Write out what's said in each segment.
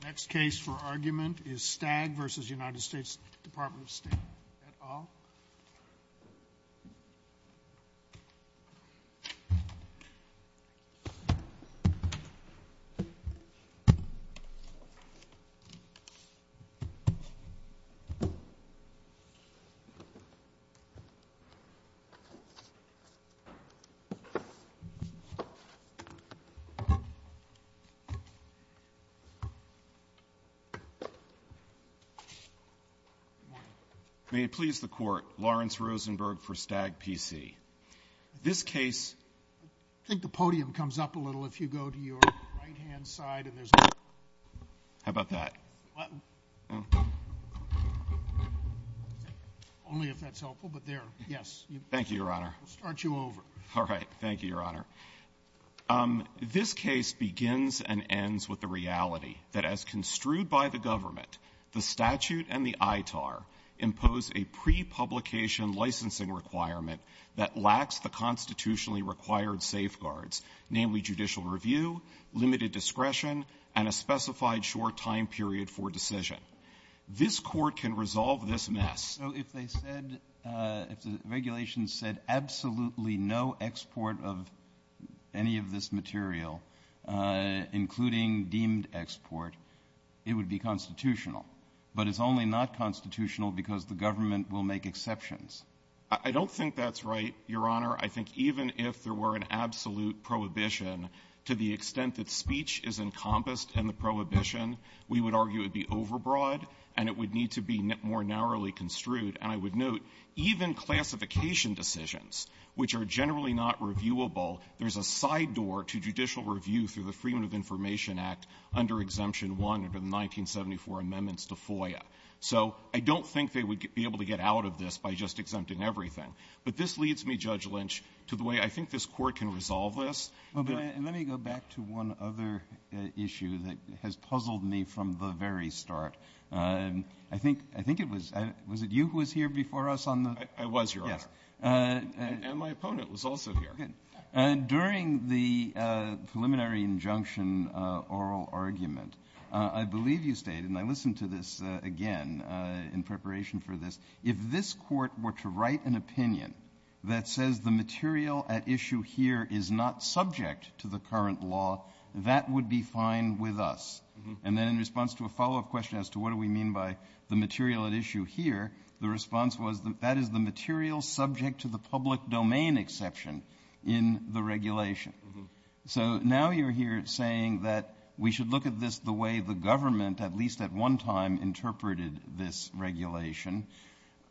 The next case for argument is Stagg v. United States Department of State et al. Lawrence Rosenberg v. Stagg P.C. So if they said, if the regulations said absolutely no export of any of this material, including deemed export, it would be constitutional. But it's only not constitutional because the government will make exceptions. Rosenberg. I don't think that's right, Your Honor. I think even if there were an absolute prohibition, to the extent that speech is encompassed in the prohibition, we would argue it would be overbroad, and it would need to be more narrowly construed. And I would note, even classification decisions, which are generally not reviewable, there's a side door to judicial review through the Freedom of Information Act under Exemption 1 under the 1974 amendments to FOIA. So I don't think they would be able to get out of this by just exempting everything. But this leads me, Judge Lynch, to the way I think this Court can resolve this. Breyer. And let me go back to one other issue that has puzzled me from the very start. I think it was you who was here before us on the ---- Rosenberg. I was, Your Honor. Breyer. Yes. And my opponent was also here. Rosenberg. And during the preliminary injunction oral argument, I believe you stated and I listened to this again in preparation for this, if this Court were to write an opinion that says the material at issue here is not subject to the current law, that would be fine with us. And then in response to a follow-up question as to what do we mean by the material at issue here, the response was that that is the material subject to the public domain exception in the regulation. Rosenberg. Uh-huh. Breyer. So now you're here saying that we should look at this the way the government, at least at one time, interpreted this regulation,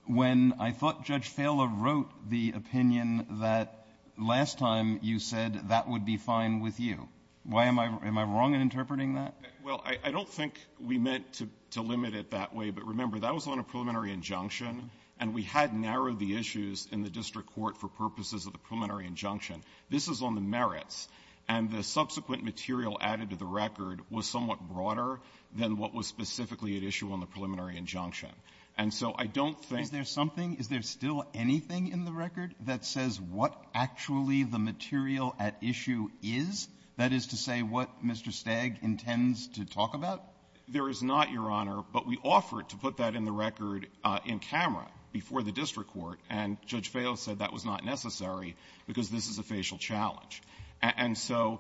when I thought Judge Fehler wrote the opinion that last time you said that would be fine with you. Why am I ---- am I wrong in interpreting that? Rosenberg. Well, I don't think we meant to limit it that way. But remember, that was on a preliminary injunction, and we had narrowed the issues in the district court for purposes of the preliminary injunction. This is on the merits. And the subsequent material added to the record was somewhat broader than what was specifically at issue on the preliminary injunction. And so I don't think ---- Roberts. Is there something, is there still anything in the record that says what actually the material at issue is? That is to say what Mr. Stagg intends to talk about? Rosenberg. There is not, Your Honor. But we offered to put that in the record in camera before the district court. And Judge Fehler said that was not necessary because this is a facial challenge. And so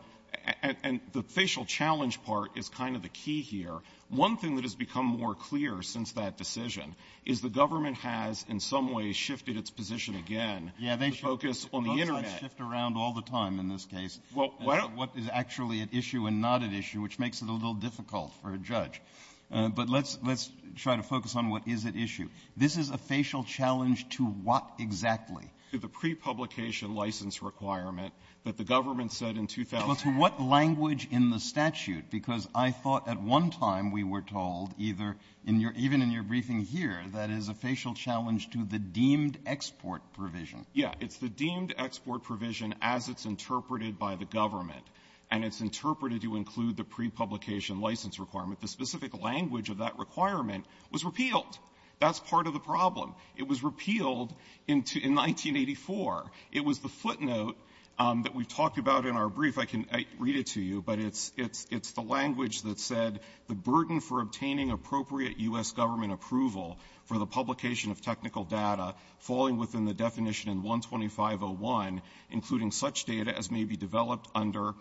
the facial challenge part is kind of the key here. One thing that has become more clear since that decision is the government has in some way shifted its position again. The focus on the Internet. Breyer. Yeah, they shift around all the time in this case. Rosenberg. Well, I don't ---- Breyer. What is actually at issue and not at issue, which makes it a little difficult for a judge. But let's try to focus on what is at issue. This is a facial challenge to what exactly? Rosenberg. To the pre-publication license requirement that the government said in 2008. Breyer. Well, to what language in the statute? Because I thought at one time we were told, either in your ---- even in your briefing here, that is a facial challenge to the deemed export provision. Rosenberg. Yeah. It's the deemed export provision as it's interpreted by the government. And it's interpreted to include the pre-publication license requirement. The specific language of that requirement was repealed. That's part of the problem. It was repealed in 1984. It was the footnote that we talked about in our brief. I can read it to you, but it's the language that said, the burden for obtaining appropriate U.S. government approval for the publication of technical data falling within the definition in 125.01, including such data as may be developed under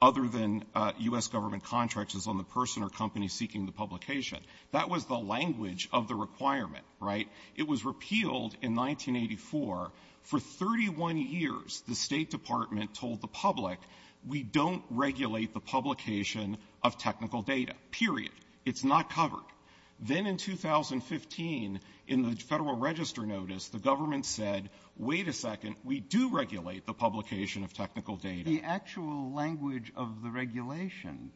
other than U.S. government contracts is on the person or company seeking the publication. That was the language of the requirement, right? It was repealed in 1984. For 31 years, the State Department told the public, we don't regulate the publication of technical data, period. It's not covered. Then in 2015, in the Federal Register notice, the government said, wait a second. We do regulate the publication of technical data. The actual language of the regulation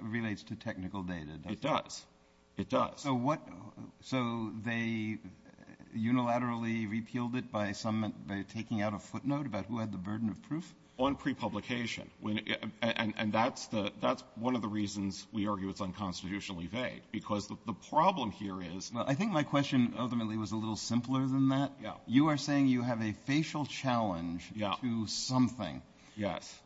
relates to technical data, doesn't it? It does. It does. So what ---- so they unilaterally repealed it by some ---- by taking out a footnote about who had the burden of proof? On prepublication. And that's the ---- that's one of the reasons we argue it's unconstitutionally vague, because the problem here is ---- Well, I think my question ultimately was a little simpler than that. Yeah. You are saying you have a facial challenge to something. Yes.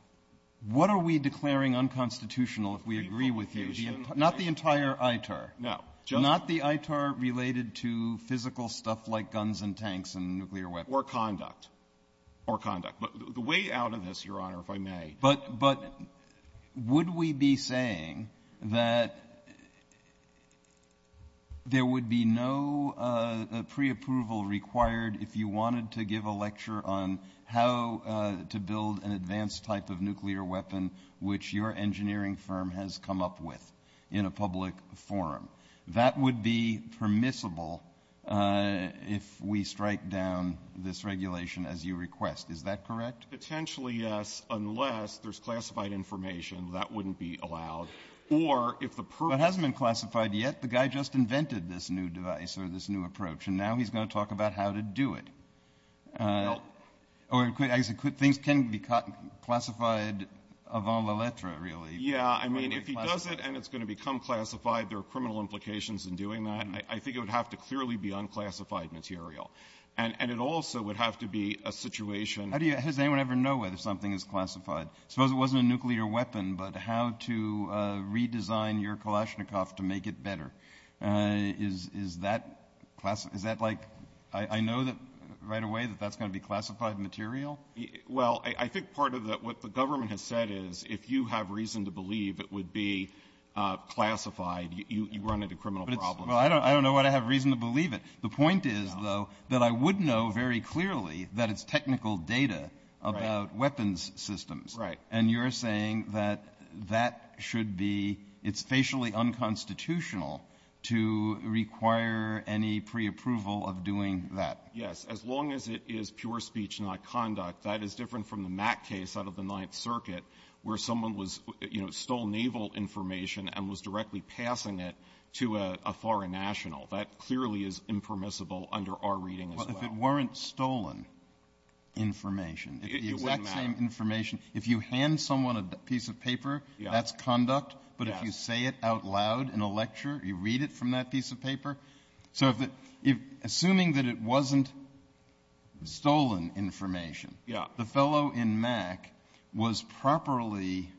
What are we declaring unconstitutional if we agree with you? Not the entire ITAR. No. Not the ITAR related to physical stuff like guns and tanks and nuclear weapons. Or conduct. Or conduct. But the way out of this, Your Honor, if I may ---- But ---- but would we be saying that there would be no preapproval required if you wanted to give a lecture on how to build an advanced type of nuclear weapon which your engineering firm has come up with in a public forum? That would be permissible if we strike down this regulation as you request. Is that correct? Potentially, yes, unless there's classified information. That wouldn't be allowed. Or if the ---- But it hasn't been classified yet. The guy just invented this new device or this new approach. And now he's going to talk about how to do it. Well ---- Or things can be classified avant la lettre, really. Yeah. I mean, if he does it and it's going to become classified, there are criminal implications in doing that. I think it would have to clearly be unclassified material. And it also would have to be a situation ---- How do you ---- does anyone ever know whether something is classified? Suppose it wasn't a nuclear weapon, but how to redesign your Kalashnikov to make it better? Is that ---- is that like ---- I know that right away that that's going to be classified material. Well, I think part of the ---- what the government has said is if you have reason to believe it would be classified, you run into criminal problems. Well, I don't know why I have reason to believe it. The point is, though, that I would know very clearly that it's technical data about weapons systems. Right. And you're saying that that should be ---- it's facially unconstitutional to require any preapproval of doing that. Yes. As long as it is pure speech, not conduct, that is different from the Mack case out of the Ninth Circuit where someone was, you know, stole naval information and was directly passing it to a foreign national. That clearly is impermissible under our reading as well. Well, if it weren't stolen information, if the exact same information ---- It wouldn't matter. If you hand someone a piece of paper, that's conduct. But if you say it out loud in a lecture, you read it from that piece of paper. So if it ---- assuming that it wasn't stolen information, the fellow in Mack was properly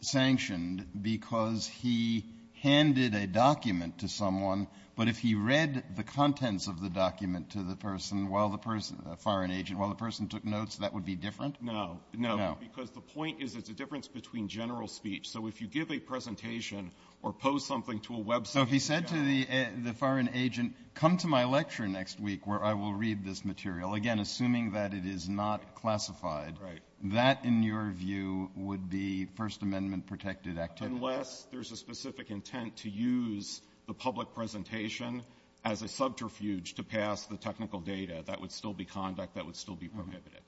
sanctioned because he handed a document to someone. But if he read the contents of the document to the person while the person ---- a foreign agent ---- while the person took notes, that would be different? No. No. Because the point is it's a difference between general speech. So if you give a presentation or post something to a website ---- So if he said to the foreign agent, come to my lecture next week where I will read this material, again, assuming that it is not classified, that, in your view, would be First Amendment-protected activity? Unless there's a specific intent to use the public presentation as a subterfuge to pass the technical data, that would still be conduct that would still be prohibited.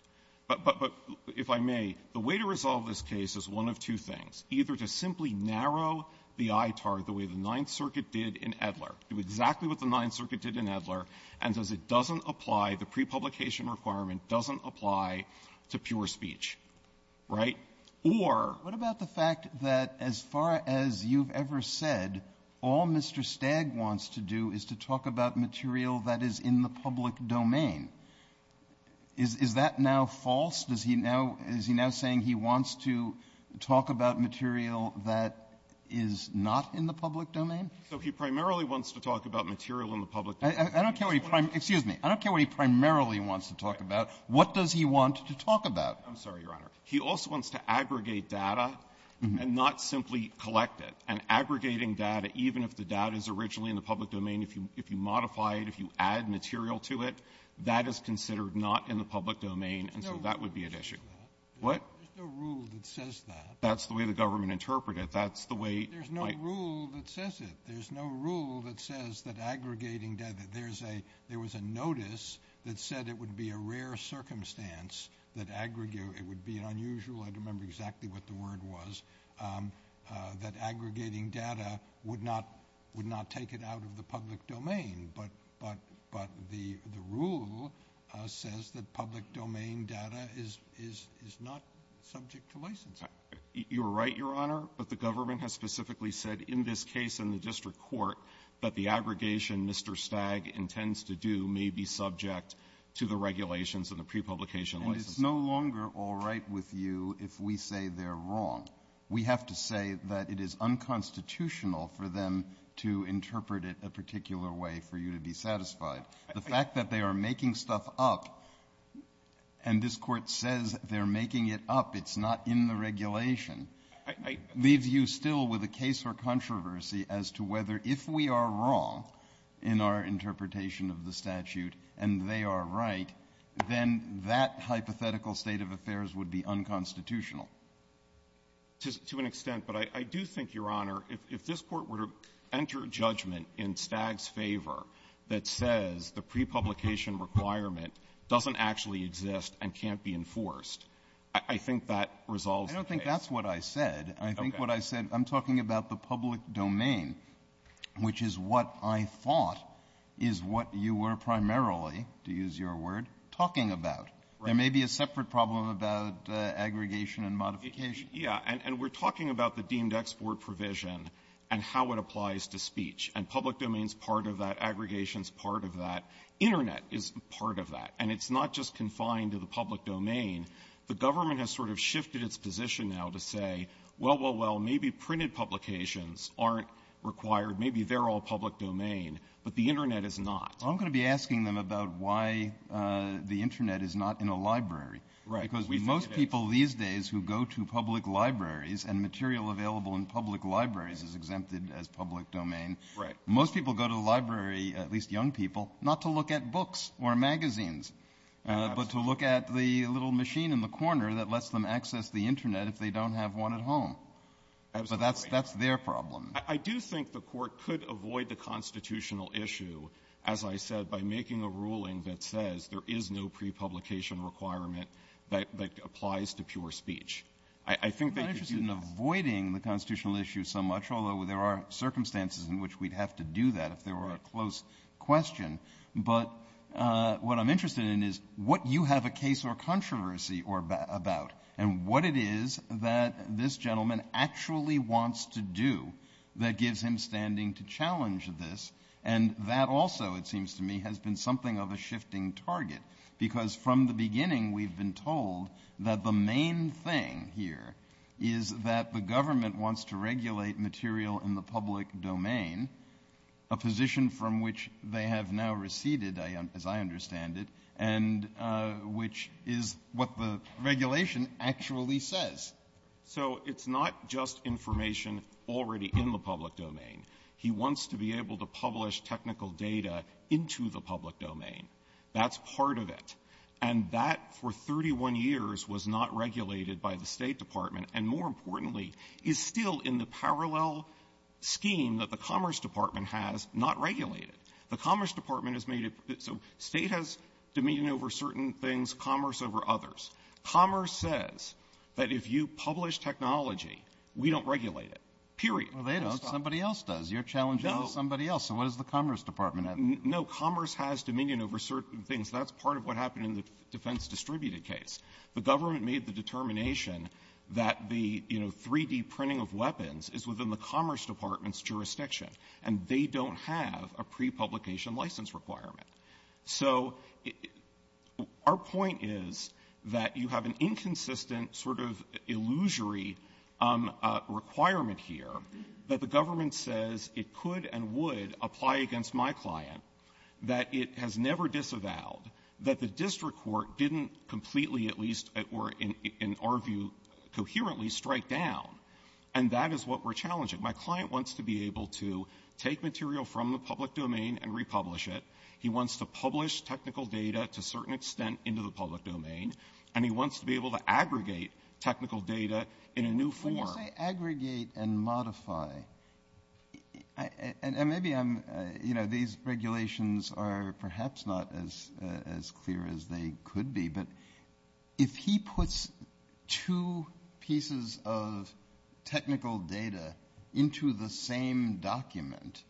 But if I may, the way to resolve this case is one of two things. Either to simply narrow the ITAR the way the Ninth Circuit did in Edler, do exactly what the Ninth Circuit did in Edler, and as it doesn't apply, the prepublication requirement doesn't apply to pure speech. Right? Or ---- What about the fact that as far as you've ever said, all Mr. Stagg wants to do is to talk about material that is in the public domain? Is that now false? Does he now ---- is he now saying he wants to talk about material that is not in the public domain? So he primarily wants to talk about material in the public domain. I don't care what he ---- excuse me. I don't care what he primarily wants to talk about. What does he want to talk about? I'm sorry, Your Honor. He also wants to aggregate data and not simply collect it. And aggregating data, even if the data is originally in the public domain, if you modify it, if you add material to it, that is considered not in the public domain, and so that would be at issue. What? There's no rule that says that. That's the way the government interpreted it. That's the way my ---- There's no rule that says it. There's no rule that says that aggregating data, there's a ---- there was a notice that said it would be a rare circumstance that aggregate ---- it would be unusual ---- I don't remember exactly what the word was ---- that aggregating data would not ---- would not take it out of the public domain. But the rule says that public domain data is not subject to licensing. You're right, Your Honor. But the government has specifically said in this case in the district court that the aggregation Mr. Stagg intends to do may be subject to the regulations and the pre-publication licenses. And it's no longer all right with you if we say they're wrong. We have to say that it is unconstitutional for them to interpret it a particular way for you to be satisfied. The fact that they are making stuff up, and this Court says they're making it up, it's not in the regulation, leaves you still with a case or controversy as to whether if we are wrong in our interpretation of the statute and they are right, then that hypothetical state of affairs would be unconstitutional. To an extent. But I do think, Your Honor, if this Court were to enter judgment in Stagg's favor that says the pre-publication requirement doesn't actually exist and can't be enforced, I think that resolves the case. I don't think that's what I said. I think what I said ---- Okay. But I'm talking about the public domain, which is what I thought is what you were primarily, to use your word, talking about. There may be a separate problem about aggregation and modification. Yeah. And we're talking about the deemed export provision and how it applies to speech. And public domain is part of that. Aggregation is part of that. Internet is part of that. And it's not just confined to the public domain. The government has sort of shifted its position now to say, well, well, well, maybe printed publications aren't required. Maybe they're all public domain, but the Internet is not. Well, I'm going to be asking them about why the Internet is not in a library. Right. Because most people these days who go to public libraries, and material available in public libraries is exempted as public domain. Right. Most people go to the library, at least young people, not to look at books or magazines but to look at the little machine in the corner that lets them access the Internet if they don't have one at home. Absolutely. So that's their problem. I do think the Court could avoid the constitutional issue, as I said, by making a ruling that says there is no prepublication requirement that applies to pure speech. I think they could do that. I'm not interested in avoiding the constitutional issue so much, although there are circumstances in which we'd have to do that if there were a close question. But what I'm interested in is what you have a case or controversy about, and what it is that this gentleman actually wants to do that gives him standing to challenge this, and that also, it seems to me, has been something of a shifting target. Because from the beginning, we've been told that the main thing here is that the government wants to regulate material in the public domain, a position from which they have now receded, as I understand it, and which is what the regulation actually says. So it's not just information already in the public domain. He wants to be able to publish technical data into the public domain. That's part of it. And that, for 31 years, was not regulated by the State Department, and more importantly, is still in the parallel scheme that the Commerce Department has not regulated. The Commerce Department has made it so State has dominion over certain things, Commerce over others. Commerce says that if you publish technology, we don't regulate it, period. Robertson, they don't. Somebody else does. You're challenging somebody else. So what does the Commerce Department have to do? No. Commerce has dominion over certain things. That's part of what happened in the defense distributed case. The government made the determination that the, you know, 3D printing of weapons is within the Commerce Department's jurisdiction, and they don't have a pre-print publication license requirement. So our point is that you have an inconsistent sort of illusory requirement here that the government says it could and would apply against my client, that it has never disavowed, that the district court didn't completely, at least, or in our view, coherently strike down, and that is what we're challenging. My client wants to be able to take material from the public domain and republish it. He wants to publish technical data to a certain extent into the public domain, and he wants to be able to aggregate technical data in a new form. When you say aggregate and modify, and maybe I'm, you know, these regulations are perhaps not as clear as they could be, but if he puts two pieces of technical data into the same document,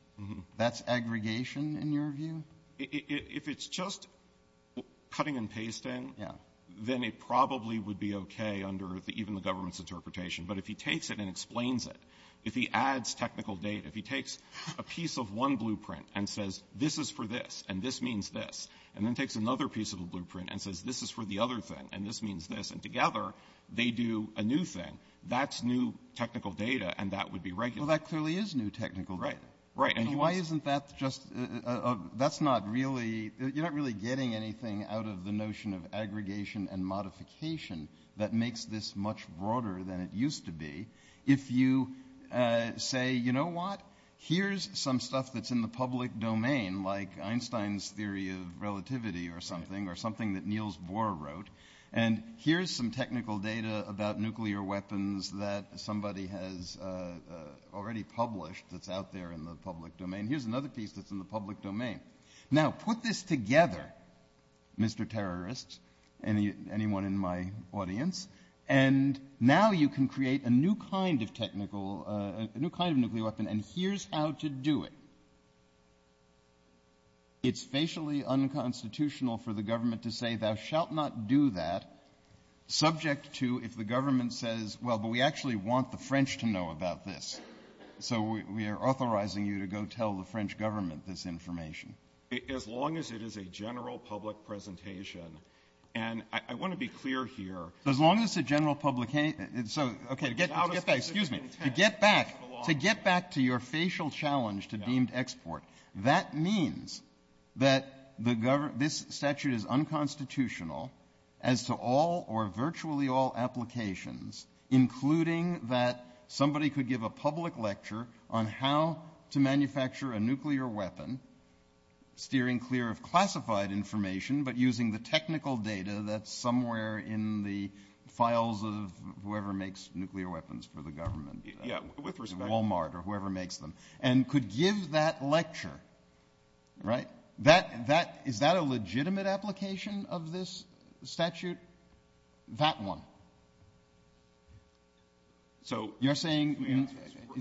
that's aggregation in your view? If it's just cutting and pasting, then it probably would be okay under even the government's interpretation. But if he takes it and explains it, if he adds technical data, if he takes a piece of one blueprint and says, this is for this, and this means this, and then takes another piece of the blueprint and says, this is for the other thing, and this means this, and together, they do a new thing, that's new technical data. And that would be regular. Well, that clearly is new technical data. Right. And why isn't that just, that's not really, you're not really getting anything out of the notion of aggregation and modification that makes this much broader than it used to be. If you say, you know what, here's some stuff that's in the public domain, like Einstein's theory of relativity or something, or something that Niels Bohr wrote, and here's some technical data about nuclear weapons that somebody has already published that's out there in the public domain. Here's another piece that's in the public domain. Now, put this together, Mr. Terrorist, anyone in my audience, and now you can create a new kind of technical, a new kind of nuclear weapon. And here's how to do it. It's facially unconstitutional for the government to say, thou shalt not do that, subject to if the government says, well, but we actually want the French to know about this. So, we are authorizing you to go tell the French government this information. As long as it is a general public presentation, and I want to be clear here. As long as it's a general public, so, okay, to get back, excuse me, to get back, to your facial challenge to deemed export, that means that this statute is unconstitutional as to all or virtually all applications, including that somebody could give a public lecture on how to manufacture a nuclear weapon, steering clear of classified information, but using the technical data that's somewhere in the files of whoever makes nuclear weapons for the government, Walmart or whoever makes them, and could give that lecture, right? That, that, is that a legitimate application of this statute? That one. So, you're saying,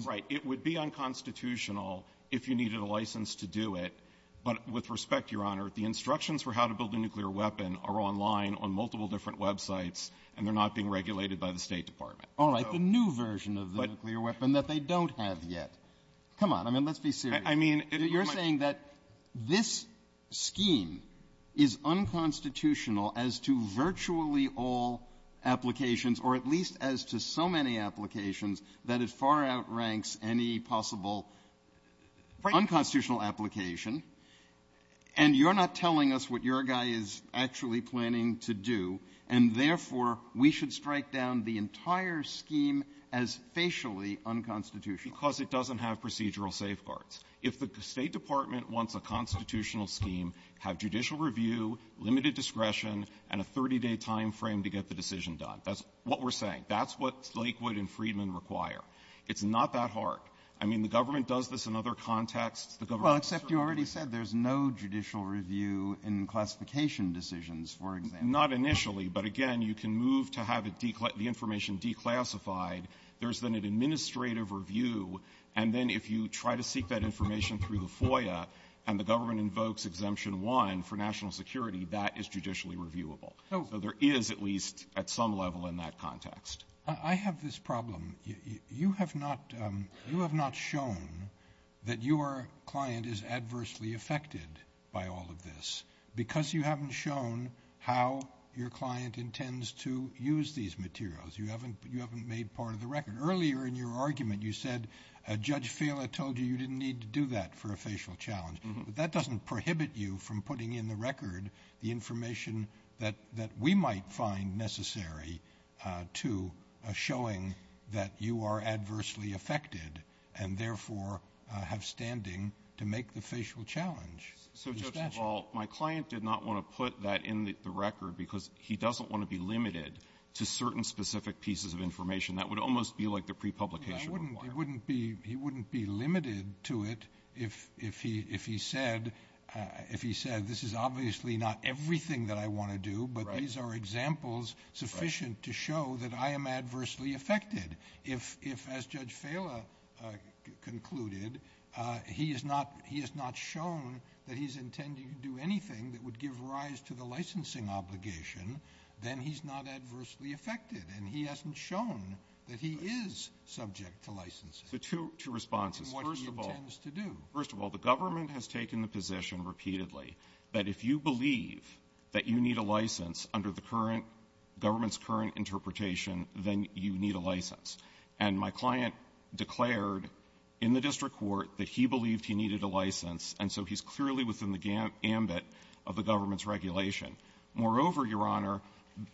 right, it would be unconstitutional if you needed a license to do it, but with respect, Your Honor, the instructions for how to build a nuclear weapon are online on multiple different websites, and they're not being regulated by the State Department. All right. The new version of the nuclear weapon that they don't have yet. Come on. I mean, let's be serious. I mean, it would be my question. You're saying that this scheme is unconstitutional as to virtually all applications, or at least as to so many applications, that it far outranks any possible unconstitutional application, and you're not telling us what your guy is actually planning to do. And, therefore, we should strike down the entire scheme as facially unconstitutional. Because it doesn't have procedural safeguards. If the State Department wants a constitutional scheme, have judicial review, limited discretion, and a 30-day time frame to get the decision done. That's what we're saying. That's what Lakewood and Friedman require. It's not that hard. I mean, the government does this in other contexts. Well, except you already said there's no judicial review in classification decisions, for example. Not initially. But, again, you can move to have the information declassified. There's then an administrative review. And then if you try to seek that information through the FOIA, and the government invokes Exemption 1 for national security, that is judicially reviewable. So there is, at least at some level, in that context. I have this problem. You have not shown that your client is adversely affected by all of this. Because you haven't shown how your client intends to use these materials. You haven't made part of the record. Earlier in your argument, you said Judge Fela told you you didn't need to do that for a facial challenge. But that doesn't prohibit you from putting in the record the information that we might find necessary to showing that you are adversely affected, and therefore have standing to make the facial challenge. So, Judge, my client did not want to put that in the record because he doesn't want to be limited to certain specific pieces of information. That would almost be like the prepublication required. He wouldn't be limited to it if he said, if he said, this is obviously not everything that I want to do, but these are examples sufficient to show that I am adversely affected. If, as Judge Fela concluded, he has not shown that he's intending to do anything that would give rise to the licensing obligation, then he's not adversely affected. And he hasn't shown that he is subject to licensing. The two responses. First of all, the government has taken the position repeatedly that if you believe that you need a license under the current government's current interpretation, then you need a license. And my client declared in the district court that he believed he needed a license, and so he's clearly within the gambit of the government's regulation. Moreover, Your Honor,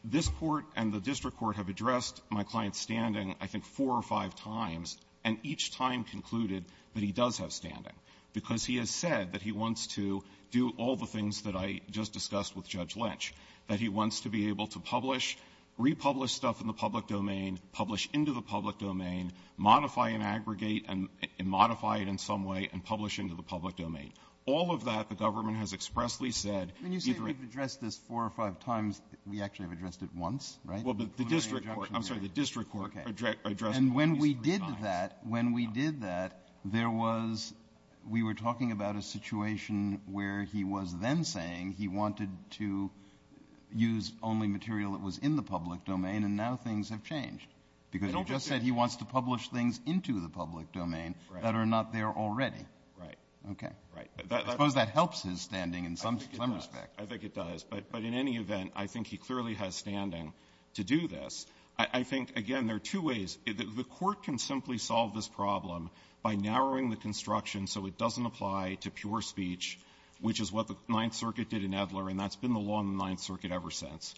this Court and the district court have addressed my client's standing I think four or five times, and each time concluded that he does have standing, because he has said that he wants to do all the things that I just discussed with Judge Lynch, that he wants to be able to publish, republish stuff in the public domain, publish into the public domain, modify and aggregate and modify it in some way, and publish into the public domain. All of that the government has expressly said. Breyer. When you say we've addressed this four or five times, we actually have addressed it once, right? Well, but the district court addressed it when he's revised. Okay. And when we did that, when we did that, there was we were talking about a situation where he was then saying he wanted to use only material that was in the public domain, and now things have changed. Because he just said he wants to publish things into the public domain that are not there already. Right. Okay. Right. I suppose that helps his standing in some respect. I think it does. But in any event, I think he clearly has standing to do this. I think, again, there are two ways. The Court can simply solve this problem by narrowing the construction so it doesn't apply to pure speech, which is what the Ninth Circuit did in Edler, and that's been the law in the Ninth Circuit ever since.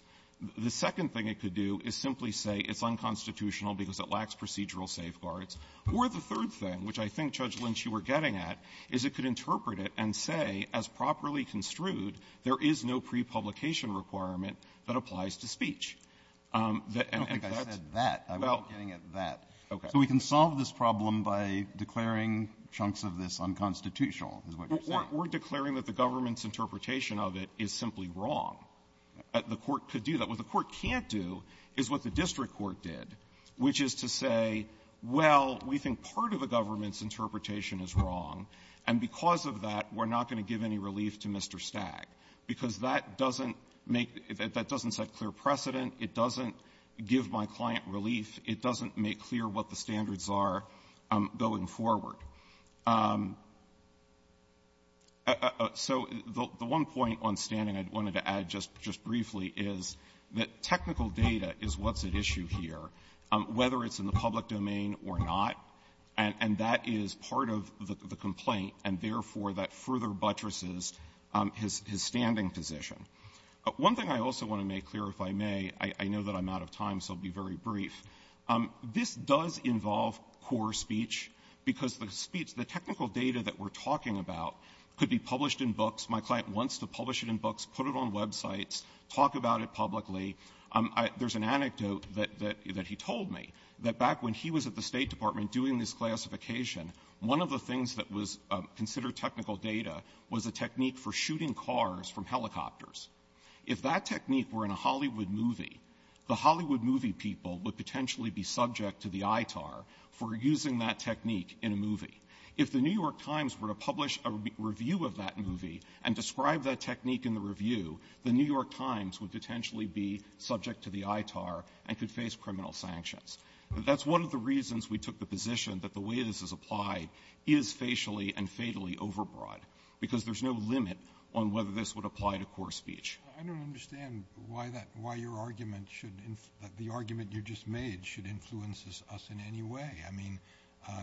The second thing it could do is simply say it's unconstitutional because it lacks procedural safeguards. Or the third thing, which I think, Judge Lynch, you were getting at, is it could interpret it and say, as properly construed, there is no pre-publication requirement that applies to speech. And that's that. I was getting at that. Okay. So we can solve this problem by declaring chunks of this unconstitutional, is what you're saying. We're declaring that the government's interpretation of it is simply wrong. The Court could do that. What the Court can't do is what the district court did, which is to say, well, we think part of the government's interpretation is wrong, and because of that, we're not going to give any relief to Mr. Stagg, because that doesn't make the --" that doesn't set clear precedent. It doesn't give my client relief. It doesn't make clear what the standards are going forward. So the one point on standing I wanted to add just briefly is that technical data is what's at issue here, whether it's in the public domain or not, and that is part of the complaint, and therefore, that further buttresses his standing position. One thing I also want to make clear, if I may, I know that I'm out of time, so I'll be very brief. This does involve core speech, because the speech, the technical data that we're talking about could be published in books. My client wants to publish it in books, put it on websites, talk about it publicly. There's an anecdote that he told me, that back when he was at the State Department doing this classification, one of the things that was considered technical data was a technique for shooting cars from helicopters. If that technique were in a Hollywood movie, the Hollywood movie people would potentially be subject to the ITAR for using that technique in a movie. If the New York Times were to publish a review of that movie and describe that technique in the review, the New York Times would potentially be subject to the ITAR and could face criminal sanctions. That's one of the reasons we took the position that the way this is applied is facially and fatally overbroad, because there's no limit on whether this would apply to core speech. Sotomayor, I don't understand why that why your argument should, the argument you just made should influence us in any way. I mean,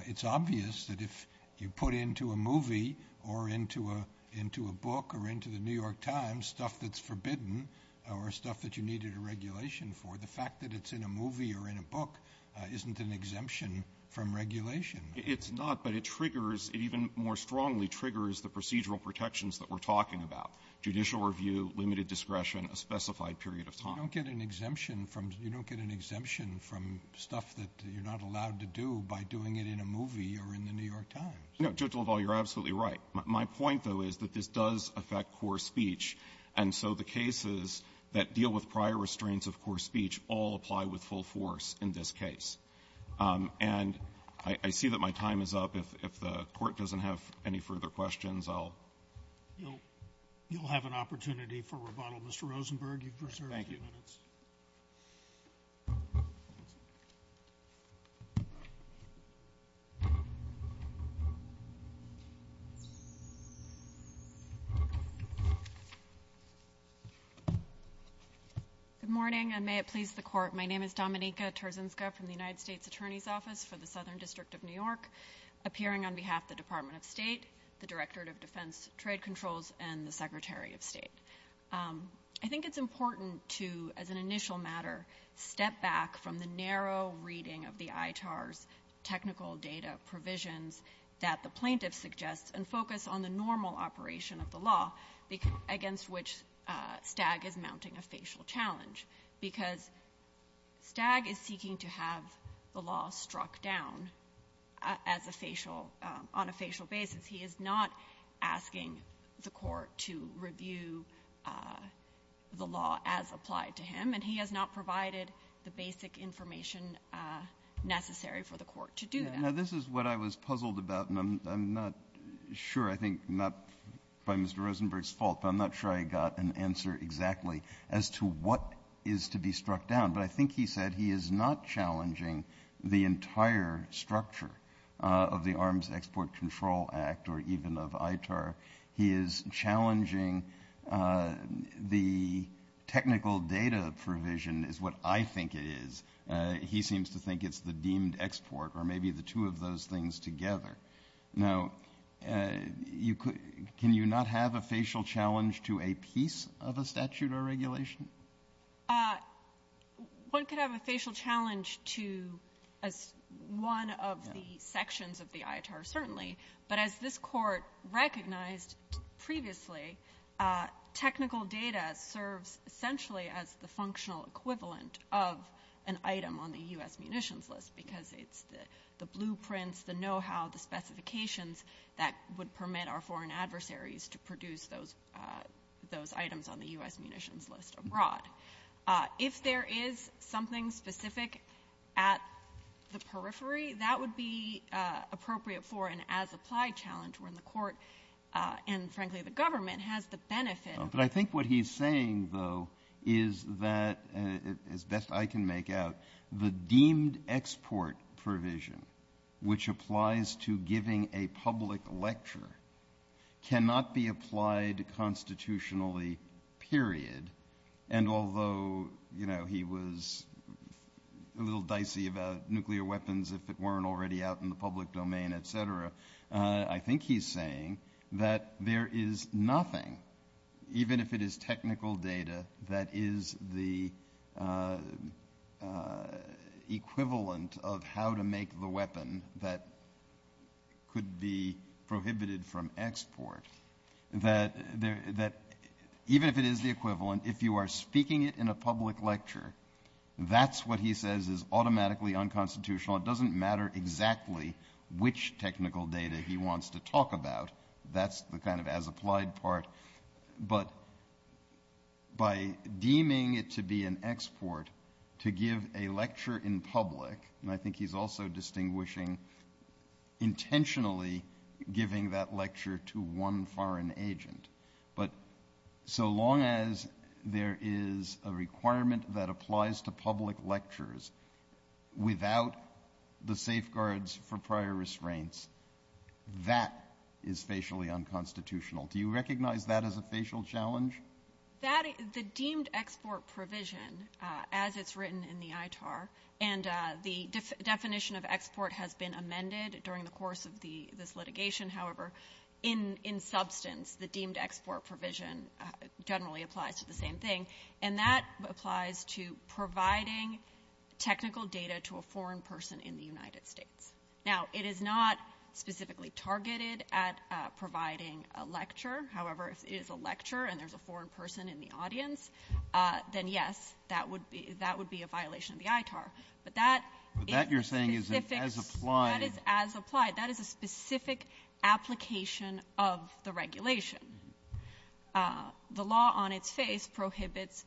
it's obvious that if you put into a movie or into a into a book or into the New York Times stuff that's forbidden or stuff that you needed a regulation for, the fact that it's in a movie or in a book isn't an exemption from regulation. It's not, but it triggers, it even more strongly triggers the procedural protections that we're talking about, judicial review, limited discretion, a specified period of time. You don't get an exemption from stuff that you're not allowed to do by doing it in a movie or in the New York Times. No. Judge Levall, you're absolutely right. My point, though, is that this does affect core speech, and so the cases that deal with prior restraints of core speech all apply with full force in this case. And I see that my time is up. If the Court doesn't have any further questions, I'll go. You'll have an opportunity for rebuttal. Mr. Rosenberg, you've reserved a few minutes. Thank you. My name is Dominika Tarzinska from the United States Attorney's Office for the Southern District of New York, appearing on behalf of the Department of State, the Directorate of Defense Trade Controls, and the Secretary of State. I think it's important to, as an initial matter, step back from the narrow reading of the ITAR's technical data provisions that the plaintiff suggests and focus on the normal operation of the law, against which Stagg is mounting a facial challenge, because Stagg is seeking to have the law struck down as a facial — on a facial basis. He is not asking the Court to review the law as applied to him, and he has not provided the basic information necessary for the Court to do that. Now, this is what I was puzzled about, and I'm not sure — I think not by Mr. Rosenberg's fault, but I'm not sure I got an answer exactly as to what is to be struck down. But I think he said he is not challenging the entire structure of the Arms Export Control Act or even of ITAR. He is challenging the technical data provision, is what I think it is. He seems to think it's the deemed export or maybe the two of those things together. Now, you could — can you not have a facial challenge to a piece of a statute or regulation? One could have a facial challenge to one of the sections of the ITAR, certainly. But as this Court recognized previously, technical data serves essentially as the functional equivalent of an item on the U.S. munitions list because it's the blueprints, the know-how, the specifications that would permit our foreign adversaries to produce those items on the U.S. munitions list abroad. If there is something specific at the periphery, that would be appropriate for an as-applied challenge when the Court and, frankly, the government has the benefit of — But I think what he's saying, though, is that, as best I can make out, the deemed export provision which applies to giving a public lecture cannot be applied constitutionally, period. And although, you know, he was a little dicey about nuclear weapons if it weren't already out in the public domain, et cetera, I think he's saying that there is nothing, even if it is technical data, that is the equivalent of how to make the weapon that could be prohibited from export, that even if it is the equivalent, if you are speaking it in a public lecture, that's what he says is automatically unconstitutional. It doesn't matter exactly which technical data he wants to talk about. That's the kind of as-applied part. But by deeming it to be an export to give a lecture in public — and I think he's also distinguishing intentionally giving that lecture to one foreign agent — but so long as there is a requirement that applies to public lectures without the safeguards for prior restraints, that is facially unconstitutional. Do you recognize that as a facial challenge? The deemed export provision, as it's written in the ITAR, and the definition of export has been amended during the course of this litigation, however, in substance the deemed export provision generally applies to the same thing, and that applies to providing technical data to a foreign person in the United States. Now, it is not specifically targeted at providing a lecture. However, if it is a lecture and there's a foreign person in the audience, then, yes, that would be a violation of the ITAR. But that is specific — But that you're saying is as-applied. That is as-applied. That is a specific application of the regulation. The law on its face prohibits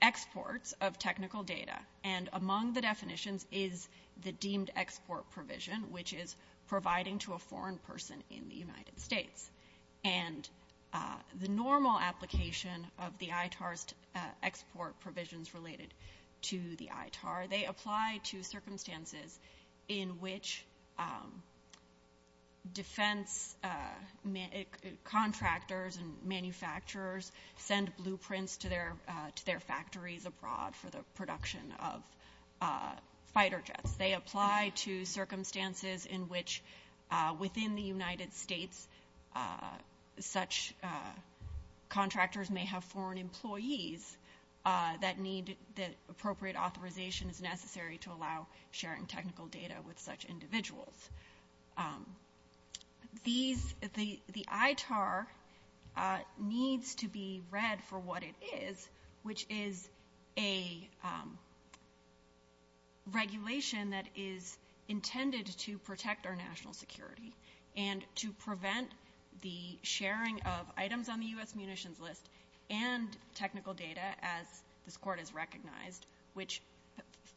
exports of technical data, and among the definitions is the deemed export provision, which is providing to a foreign person in the United States. And the normal application of the ITAR's export provisions related to the ITAR, they apply to circumstances in which defense contractors and manufacturers send blueprints to their factories abroad for the production of fighter jets. They apply to circumstances in which, within the United States, such contractors may have foreign employees that appropriate authorization is necessary to allow sharing technical data with such individuals. The ITAR needs to be read for what it is, which is a regulation that is intended to protect our national security and to prevent the sharing of items on the U.S. munitions list and technical data, as this Court has recognized, which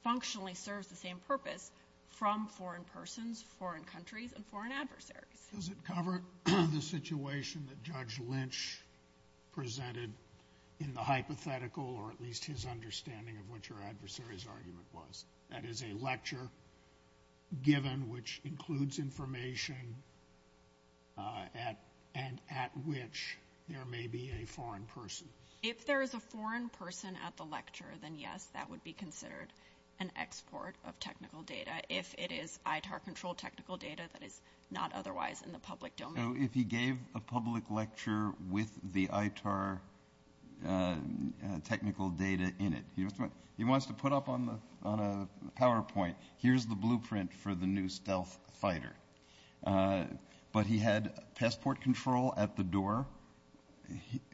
functionally serves the same purpose from foreign persons, foreign countries, and foreign adversaries. Does it cover the situation that Judge Lynch presented in the hypothetical, or at least his understanding of what your adversary's argument was? That is a lecture given which includes information and at which there may be a foreign person. If there is a foreign person at the lecture, then yes, that would be considered an export of technical data if it is ITAR-controlled technical data that is not otherwise in the public domain. If he gave a public lecture with the ITAR technical data in it, he wants to put up on a fighter, but he had passport control at the door,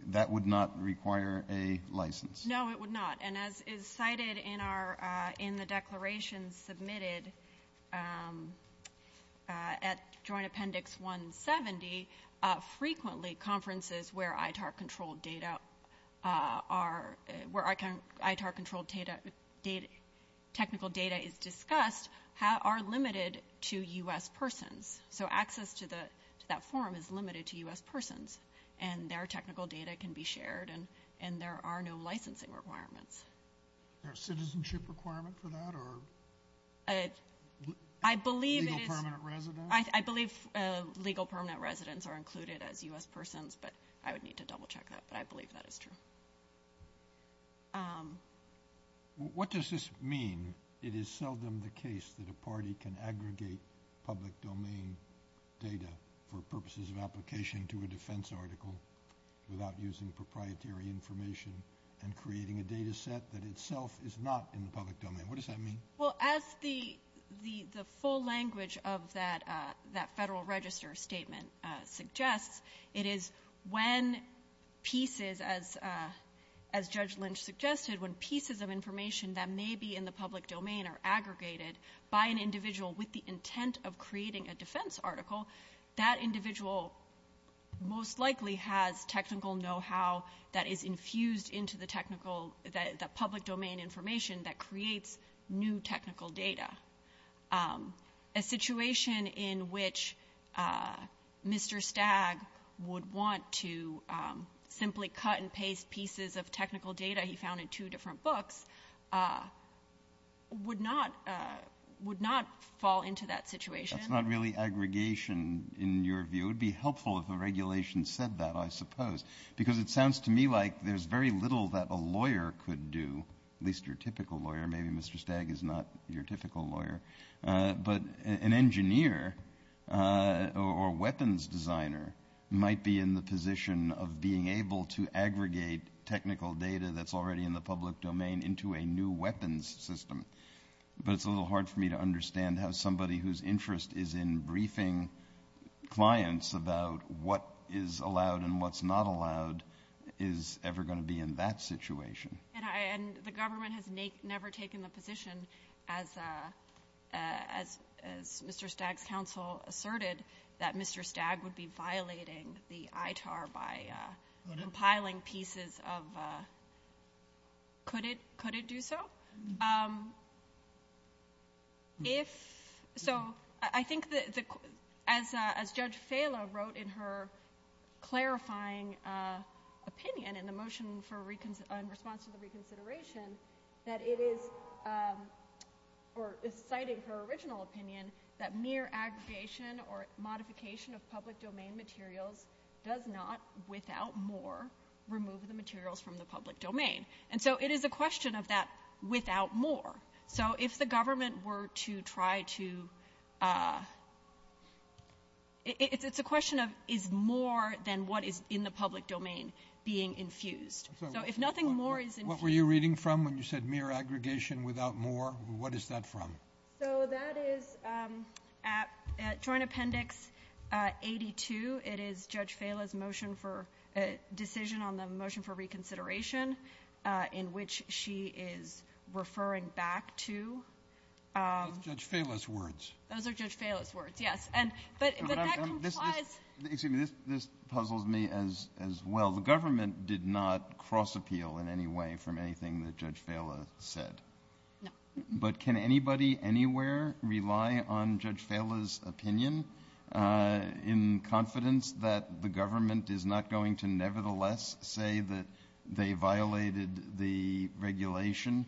that would not require a license. No, it would not. And as is cited in the declaration submitted at Joint Appendix 170, frequently the conferences where ITAR-controlled technical data is discussed are limited to U.S. persons. So access to that forum is limited to U.S. persons, and their technical data can be shared and there are no licensing requirements. Is there a citizenship requirement for that or legal permanent residence? I believe legal permanent residence are included as U.S. persons, but I would need to double check that, but I believe that is true. What does this mean? It is seldom the case that a party can aggregate public domain data for purposes of application to a defense article without using proprietary information and creating a data set that itself is not in the public domain. What does that mean? Well, as the full language of that Federal Register statement suggests, it is when pieces as Judge Lynch suggested, when pieces of information that may be in the public domain are aggregated by an individual with the intent of creating a defense article, that individual most likely has technical know-how that is infused into the technical, the public domain information that creates new technical data. A situation in which Mr. Stagg would want to simply cut and paste pieces of technical data he found in two different books would not fall into that situation. That is not really aggregation in your view. It would be helpful if a regulation said that, I suppose, because it sounds to me like there is very little that a lawyer could do, at least your typical lawyer, maybe Mr. Stagg is not your typical lawyer, but an engineer or weapons designer might be in the position of being able to aggregate technical data that is already in the public domain into a new weapons system. But it is a little hard for me to understand how somebody whose interest is in briefing clients about what is allowed and what is not allowed is ever going to be in that situation. And the government has never taken the position, as Mr. Stagg's counsel asserted, that Mr. Stagg would be violating the ITAR by compiling pieces of, could it do so? I think, as Judge Fala wrote in her clarifying opinion in the motion in response to the reconsideration, that it is, or is citing her original opinion, that mere aggregation or modification of public domain materials does not, without more, remove the materials from the public domain. And so it is a question of that without more. So if the government were to try to, it's a question of, is more than what is in the public domain being infused? So if nothing more is infused. What were you reading from when you said mere aggregation without more? What is that from? So that is, at Joint Appendix 82, it is Judge Fala's motion for decision on the motion for reconsideration, in which she is referring back to. Those are Judge Fala's words. Those are Judge Fala's words, yes. But that complies. Excuse me, this puzzles me as well. The government did not cross-appeal in any way from anything that Judge Fala said. But can anybody anywhere rely on Judge Fala's opinion in confidence that the government is not going to nevertheless say that they violated the regulation,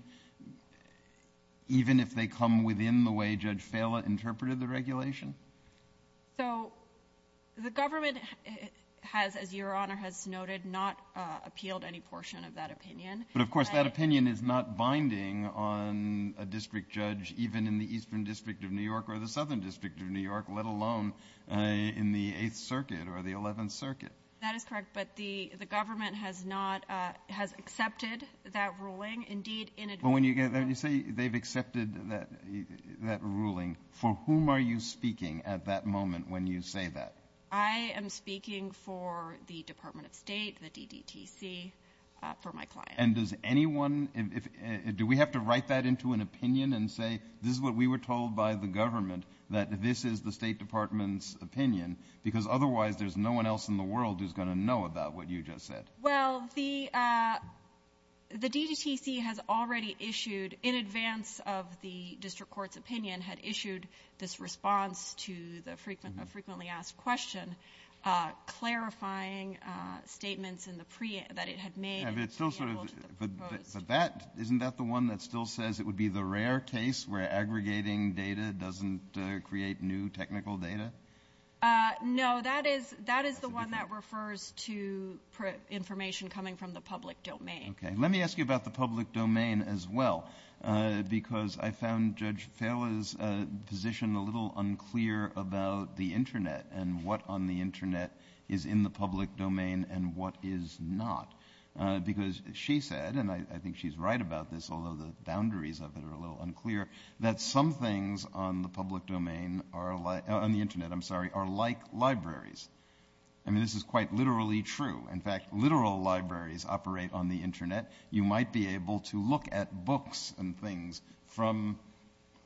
even if they come within the way Judge Fala interpreted the regulation? So the government has, as Your Honor has noted, not appealed any portion of that opinion. But of course, that opinion is not binding on a district judge, even in the Eastern District of New York or the Southern District of New York, let alone in the Eighth Circuit. That is correct. But the government has not, has accepted that ruling, indeed, in advance. But when you say they've accepted that ruling, for whom are you speaking at that moment when you say that? I am speaking for the Department of State, the DDTC, for my client. And does anyone, do we have to write that into an opinion and say, this is what we were told by the government, that this is the State Department's opinion? Because otherwise, there's no one else in the world who's going to know about what you just said. Well, the DDTC has already issued, in advance of the district court's opinion, had issued this response to the frequently asked question, clarifying statements that it had made. Yeah, but it's still sort of, but that, isn't that the one that still says it would be the rare case where aggregating data doesn't create new technical data? No, that is, that is the one that refers to information coming from the public domain. Okay. Let me ask you about the public domain as well. Because I found Judge Fela's position a little unclear about the internet and what on the internet is in the public domain and what is not. Because she said, and I think she's right about this, although the boundaries of it are a little unclear, that some things on the public domain, on the internet, I'm sorry, are like libraries. I mean, this is quite literally true. In fact, literal libraries operate on the internet. You might be able to look at books and things from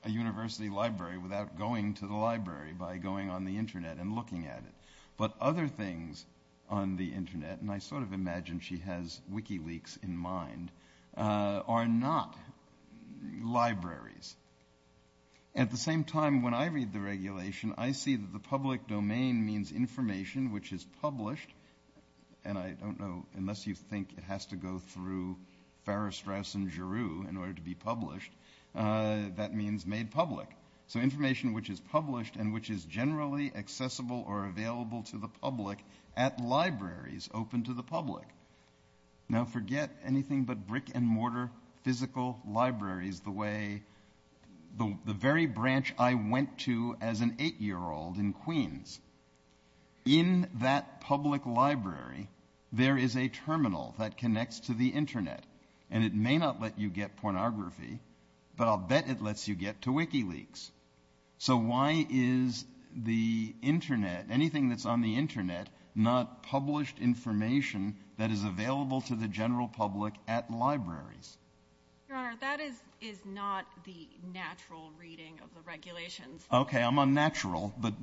a university library without going to the library, by going on the internet and looking at it. But other things on the internet, and I sort of imagine she has Wikileaks in mind, are not libraries. At the same time, when I read the regulation, I see that the public domain means information which is published, and I don't know, unless you think it has to go through Farris, Straus, and Giroux in order to be published. That means made public. So information which is published and which is generally accessible or available to the public at libraries, open to the public. Now forget anything but brick-and-mortar physical libraries the way the very branch I went to as an eight-year-old in Queens. In that public library, there is a terminal that connects to the internet, and it may not let you get pornography, but I'll bet it lets you get to Wikileaks. So why is the internet, anything that's on the internet, not published information that is available to the general public at libraries? Your Honor, that is not the natural reading of the regulations. Okay, I'm unnatural, but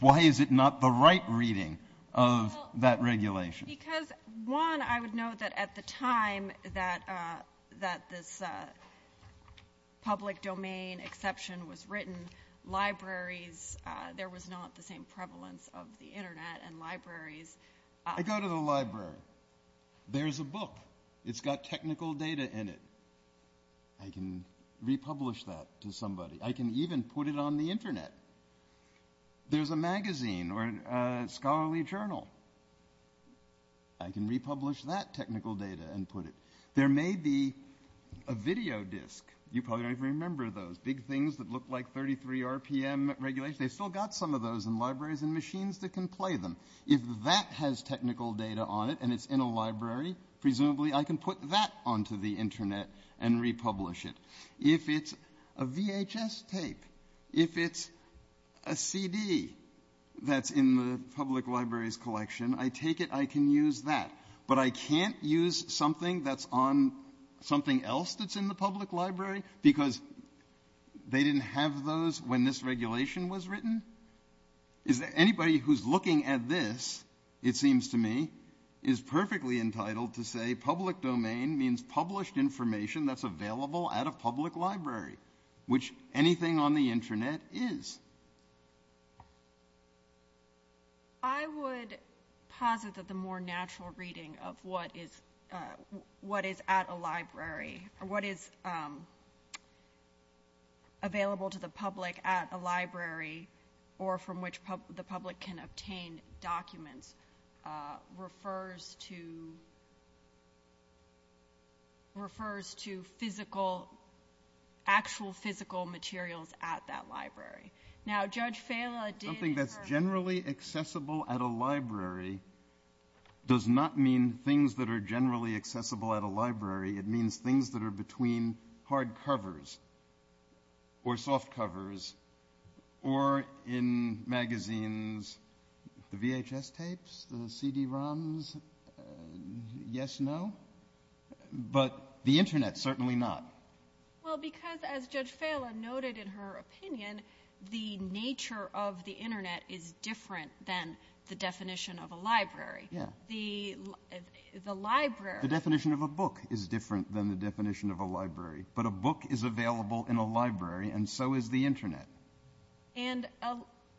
why is it not the right reading of that regulation? Because, one, I would note that at the time that this public domain exception was written, libraries, there was not the same prevalence of the internet and libraries. I go to the library. There's a book. It's got technical data in it. I can republish that to somebody. I can even put it on the internet. There's a magazine or a scholarly journal. I can republish that technical data and put it. There may be a video disc. You probably don't even remember those big things that look like 33 RPM regulations. They've still got some of those in libraries and machines that can play them. If that has technical data on it and it's in a library, presumably I can put that onto the internet and republish it. If it's a VHS tape, if it's a CD that's in the public library's collection, I take it I can use that. But I can't use something that's on something else that's in the public library Anybody who's looking at this, it seems to me, is perfectly entitled to say public domain means published information that's available at a public library, which anything on the internet is. I would posit that the more natural reading of what is at a library, what is available to the public at a library, or from which the public can obtain documents, refers to actual physical materials at that library. Something that's generally accessible at a library does not mean things that are generally accessible at a library. It means things that are between hardcovers or softcovers or in magazines. The VHS tapes, the CD-ROMs, yes, no. But the internet, certainly not. Well, because as Judge Fala noted in her opinion, the nature of the internet is different than the definition of a library. The definition of a book is different than the definition of a library. But a book is available in a library, and so is the internet. And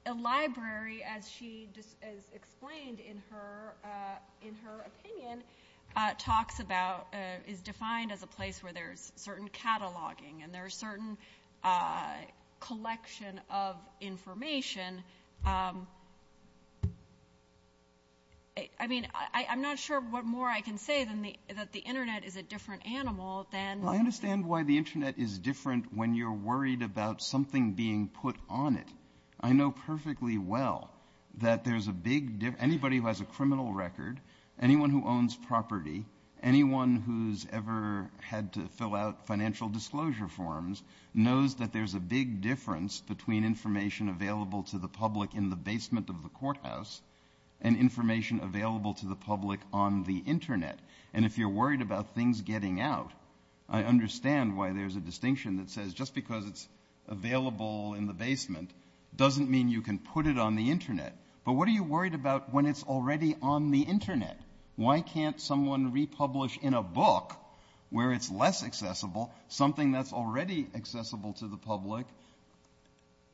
a library, as she explained in her opinion, is defined as a place where there's certain cataloging and there's certain collection of information I mean, I'm not sure what more I can say that the internet is a different animal than... I understand why the internet is different when you're worried about something being put on it. I know perfectly well that anybody who has a criminal record, anyone who owns property, anyone who's ever had to fill out financial disclosure forms knows that there's a big difference between information available to the public in the basement of the courthouse and information available to the public on the internet. And if you're worried about things getting out, I understand why there's a distinction that says just because it's available in the basement doesn't mean you can put it on the internet. But what are you worried about when it's already on the internet? Why can't someone republish in a book where it's less accessible something that's already accessible to the public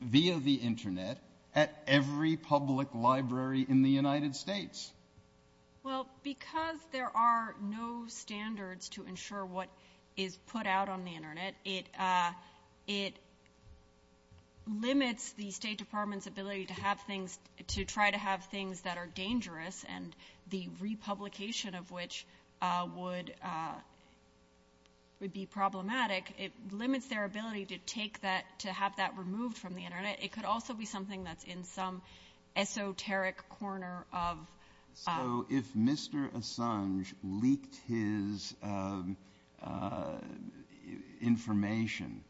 via the internet at every public library in the United States? Well, because there are no standards to ensure what is put out on the internet, it limits the State Department's ability to try to have things that are dangerous and the republication of which would be problematic. It limits their ability to take that, to have that removed from the internet. It could also be something that's in some esoteric corner of... So if Mr. Assange leaked his information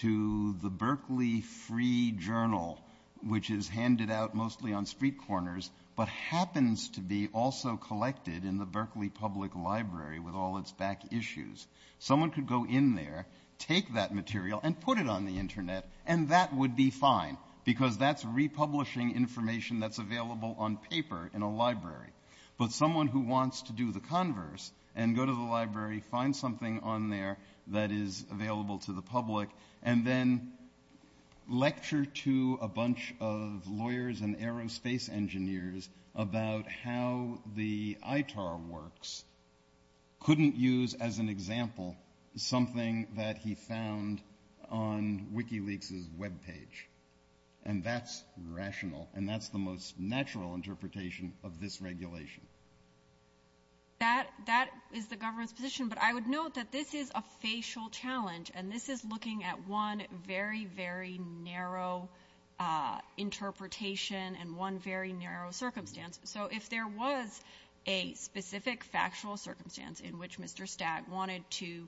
to the Berkeley Free Journal, which is handed out mostly on street corners but happens to be also collected in the Berkeley Public Library with all its back issues, someone could go in there, take that material, and put it on the internet, and that would be fine, because that's republishing information that's available on paper in a library. But someone who wants to do the converse and go to the library, find something on there that is available to the public, and then lecture to a bunch of lawyers and aerospace engineers about how the ITAR works couldn't use as an example something that he found on WikiLeaks' web page. And that's rational, and that's the most natural interpretation of this regulation. That is the government's position, but I would note that this is a facial challenge, and this is looking at one very, very narrow interpretation and one very narrow circumstance. So if there was a specific factual circumstance in which Mr. Stagg wanted to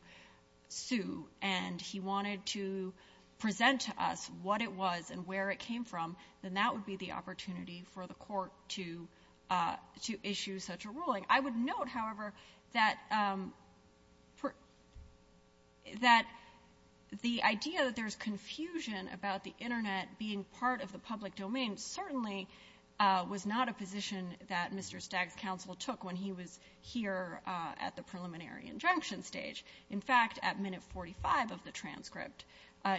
sue and he wanted to present to us what it was and where it came from, then that would be the opportunity for the court to issue such a ruling. I would note, however, that the idea that there's confusion about the internet being part of the public domain certainly was not a position that Mr. Stagg's counsel took when he was here at the preliminary injunction stage. In fact, at minute 45 of the transcript,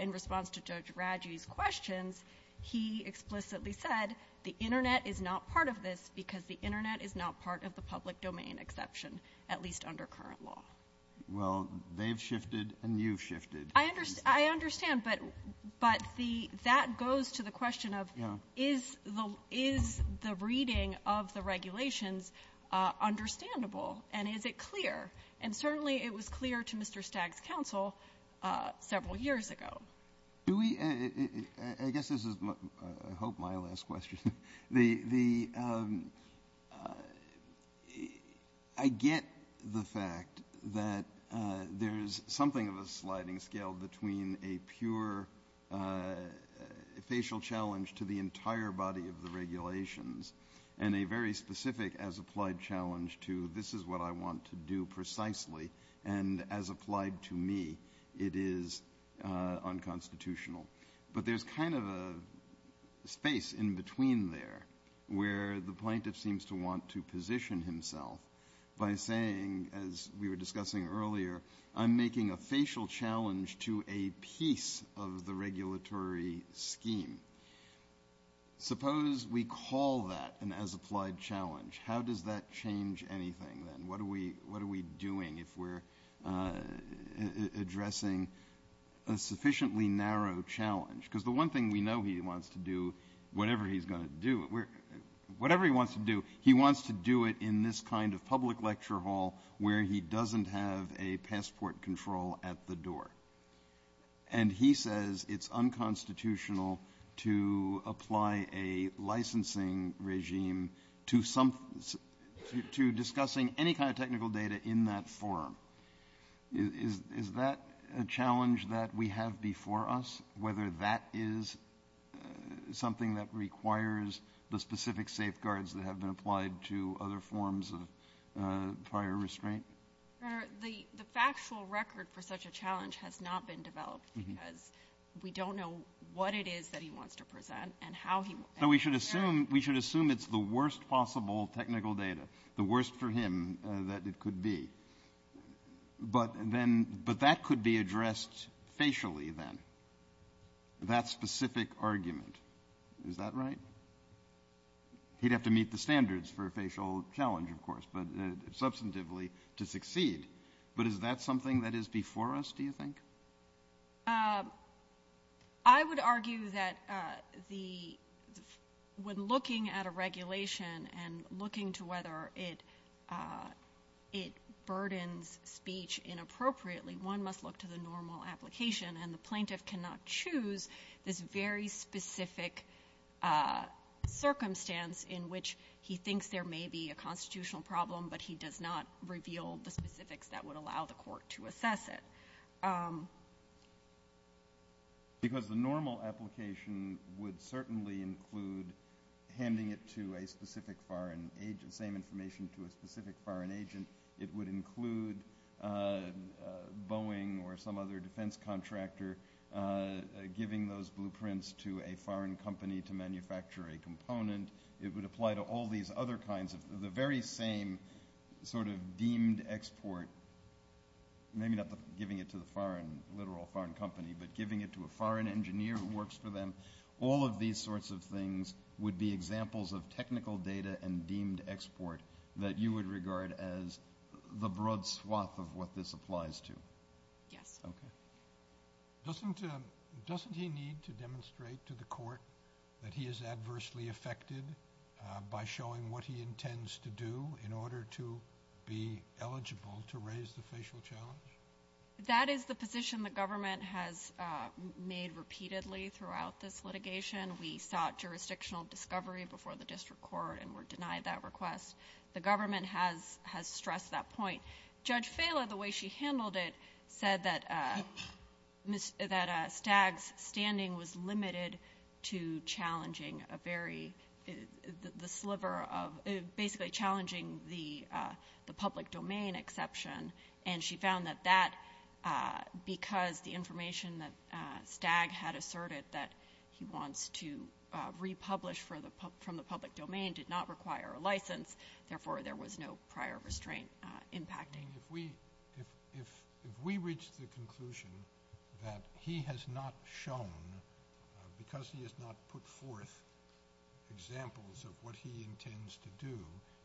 in response to Judge Radji's questions, he explicitly said the internet is not part of this because the internet is not part of the public domain exception, at least under current law. Well, they've shifted and you've shifted. I understand, but that goes to the question of is the reading of the regulations understandable? And is it clear? And certainly it was clear to Mr. Stagg's counsel several years ago. Do we — I guess this is, I hope, my last question. The — I get the fact that there's something of a sliding scale between a pure facial challenge to the entire body of the regulations and a very specific as-applied challenge to this is what I want to do precisely, and as applied to me, it is unconstitutional. But there's kind of a space in between there where the plaintiff seems to want to position himself by saying, as we were discussing earlier, I'm making a facial challenge to a piece of the regulatory scheme. Suppose we call that an as-applied challenge. How does that change anything then? What are we doing if we're addressing a sufficiently narrow challenge? Because the one thing we know he wants to do, whatever he's going to do, whatever he wants to do, he wants to do it in this kind of public lecture hall where he doesn't have a passport control at the door. And he says it's unconstitutional to apply a licensing regime to discussing any kind of technical data in that forum. Is that a challenge that we have before us, whether that is something that requires the specific safeguards that have been applied to other forms of prior restraint? The factual record for such a challenge has not been developed because we don't know what it is that he wants to present and how he will present it. So we should assume it's the worst possible technical data, the worst for him that it could be. But that could be addressed facially then, that specific argument. Is that right? He'd have to meet the standards for a facial challenge, of course, but substantively to succeed. But is that something that is before us, do you think? I would argue that when looking at a regulation and looking to whether it burdens speech inappropriately, one must look to the normal application. And the plaintiff cannot choose this very specific circumstance in which he thinks there may be a constitutional problem, but he does not reveal the specifics that would allow the court to assess it. Because the normal application would certainly include handing it to a specific foreign agent, same information to a specific foreign agent. It would include Boeing or some other defense contractor giving those blueprints to a foreign company to manufacture a component. It would apply to all these other kinds of the very same sort of deemed export, maybe not giving it to the foreign, literal foreign company, but giving it to a foreign engineer who works for them. All of these sorts of things would be examples of technical data and deemed export that you would regard as the broad swath of what this applies to. Yes. Okay. Doesn't he need to demonstrate to the court that he is adversely affected by showing what he intends to do in order to be eligible to raise the facial challenge? That is the position the government has made repeatedly throughout this litigation. We sought jurisdictional discovery before the district court and were denied that request. The government has stressed that point. Judge Fela, the way she handled it, said that Stagg's standing was limited to challenging a very, the sliver of, basically challenging the public domain exception, and she found that that, because the information that Stagg had asserted that he wants to republish from the public domain did not require a license, therefore there was no prior restraint impacting. If we reach the conclusion that he has not shown, because he has not put forth examples of what he intends to do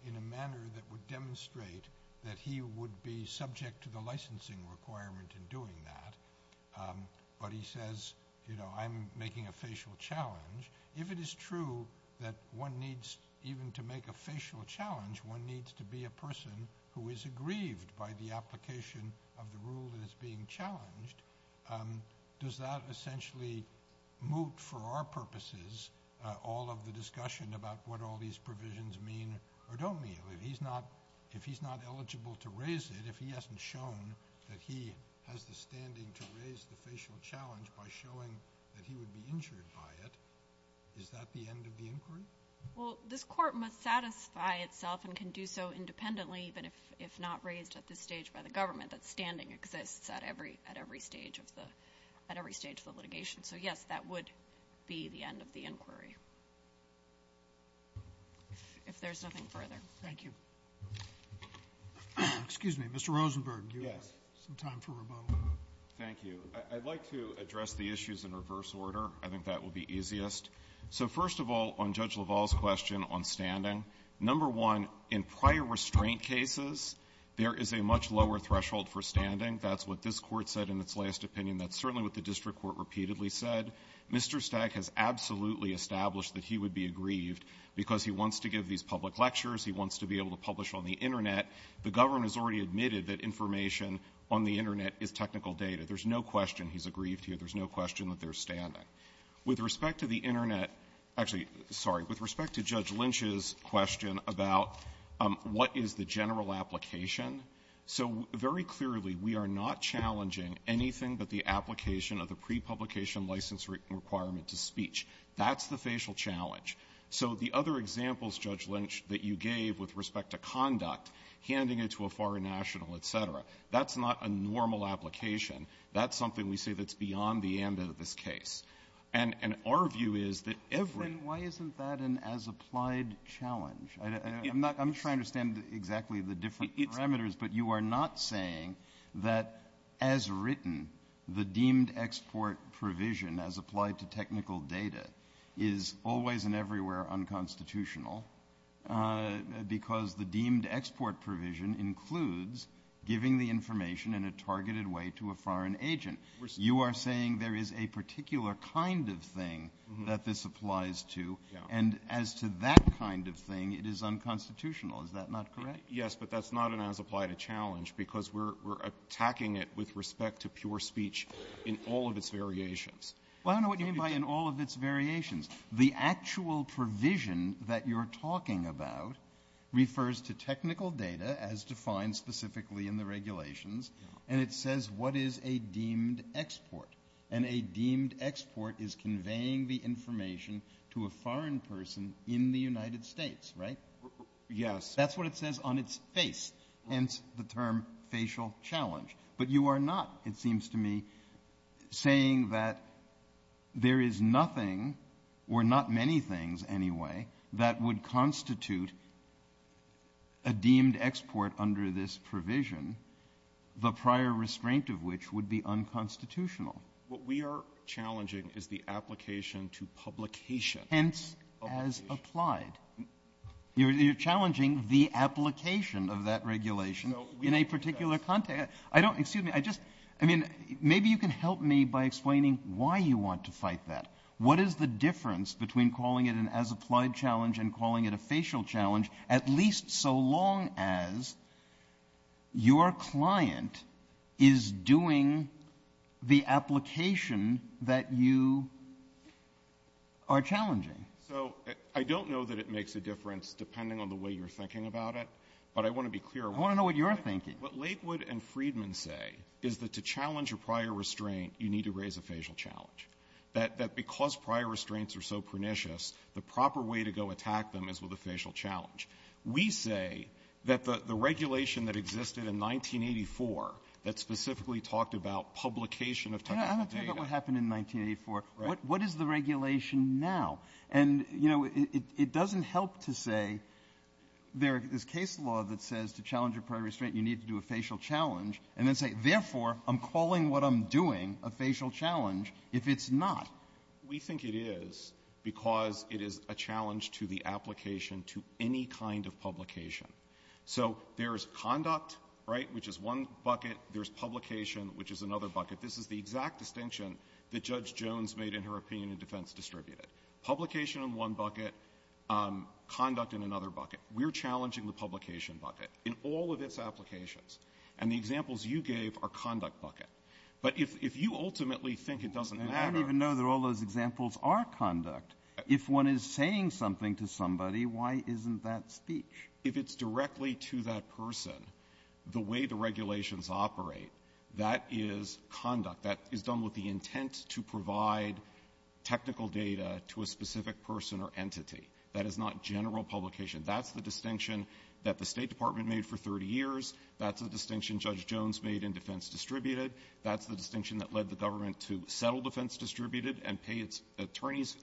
in a manner that would demonstrate that he would be subject to the licensing requirement in doing that, but he says, you know, I'm making a facial challenge, if it is true that one needs, even to make a facial challenge, one needs to be a person who is aggrieved by the application of the rule that is being challenged, does that essentially moot, for our purposes, all of the discussion about what all these provisions mean or don't mean? If he's not eligible to raise it, if he hasn't shown that he has the standing to raise the facial challenge by showing that he would be injured by it, is that the end of the inquiry? Well, this court must satisfy itself and can do so independently, even if not raised at this stage by the government, that standing exists at every stage of the litigation. So, yes, that would be the end of the inquiry, if there's nothing further. Thank you. Excuse me. Mr. Rosenberg. Yes. Some time for rebuttal. Thank you. I'd like to address the issues in reverse order. I think that will be easiest. So, first of all, on Judge LaValle's question on standing, number one, in prior restraint cases, there is a much lower threshold for standing. That's what this Court said in its last opinion. That's certainly what the district court repeatedly said. Mr. Stagg has absolutely established that he would be aggrieved because he wants to give these public lectures. He wants to be able to publish on the Internet. The government has already admitted that information on the Internet is technical data. There's no question he's aggrieved here. There's no question that there's standing. With respect to the Internet — actually, sorry. With respect to Judge Lynch's question about what is the general application, so very clearly we are not challenging anything but the application of the prepublication license requirement to speech. That's the facial challenge. So the other examples, Judge Lynch, that you gave with respect to conduct, handing it to a foreign national, et cetera, that's not a normal application. That's something we say that's beyond the ambit of this case. And our view is that every — Then why isn't that an as-applied challenge? I'm not — I'm trying to understand exactly the different parameters, but you are not saying that as written, the deemed export provision as applied to technical data is always and everywhere unconstitutional because the deemed export provision includes giving the information in a targeted way to a foreign agent. You are saying there is a particular kind of thing that this not an as-applied challenge because we're attacking it with respect to pure speech in all of its variations. Well, I don't know what you mean by in all of its variations. The actual provision that you're talking about refers to technical data as defined specifically in the regulations, and it says what is a deemed export. And a deemed export is conveying the information to a foreign person in the United States, right? Yes. That's what it says on its face, hence the term facial challenge. But you are not, it seems to me, saying that there is nothing, or not many things, anyway, that would constitute a deemed export under this provision, the prior restraint of which would be unconstitutional. What we are challenging is the application to publication. Hence, as applied. You're challenging the application of that regulation in a particular context. I don't, excuse me, I just, I mean, maybe you can help me by explaining why you want to fight that. What is the difference between calling it an as-applied challenge and calling it a facial challenge, at least so long as your client is doing the application that you are challenging? So I don't know that it makes a difference depending on the way you're thinking about it, but I want to be clear. I want to know what you're thinking. What Lakewood and Freedman say is that to challenge a prior restraint, you need to raise a facial challenge, that because prior restraints are so pernicious, the proper way to go attack them is with a facial challenge. We say that the regulation that existed in 1984 that specifically talked about publication of technical data ---- Breyer, I'm not talking about what happened in 1984. What is the regulation now? And, you know, it doesn't help to say there is case law that says to challenge a prior restraint, you need to do a facial challenge, and then say, therefore, I'm calling what I'm doing a facial challenge if it's not. We think it is because it is a challenge to the application to any kind of publication. So there is conduct, right, which is one bucket. There is publication, which is another bucket. This is the exact distinction that Judge Jones made in her opinion in defense distributed. Publication in one bucket, conduct in another bucket. We're challenging the publication bucket in all of its applications. And the examples you gave are conduct bucket. But if you ultimately think it doesn't matter ---- Breyer, I don't even know that all those examples are conduct. If one is saying something to somebody, why isn't that speech? If it's directly to that person, the way the regulations operate, that is conduct. That is done with the intent to provide technical data to a specific person or entity. That is not general publication. That's the distinction that the State Department made for 30 years. That's the distinction Judge Jones made in defense distributed. That's the distinction that led the government to settle defense distributed and pay its attorneys,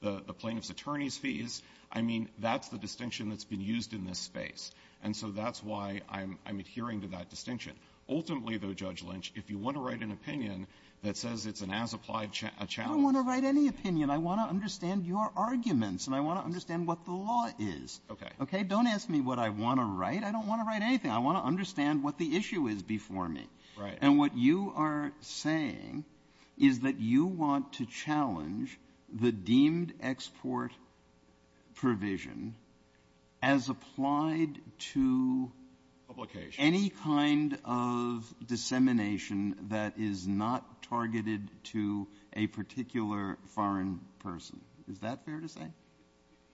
the plaintiff's attorneys' fees. I mean, that's the distinction that's been used in this space. And so that's why I'm adhering to that distinction. Ultimately, though, Judge Lynch, if you want to write an opinion that says it's an as-applied challenge ---- Breyer, I don't want to write any opinion. I want to understand your arguments, and I want to understand what the law is. Okay. Okay? Don't ask me what I want to write. I don't want to write anything. I want to understand what the issue is before me. Right. And what you are saying is that you want to challenge the deemed export provision as applied to any kind of dissemination that is not targeted to a particular foreign person. Is that fair to say?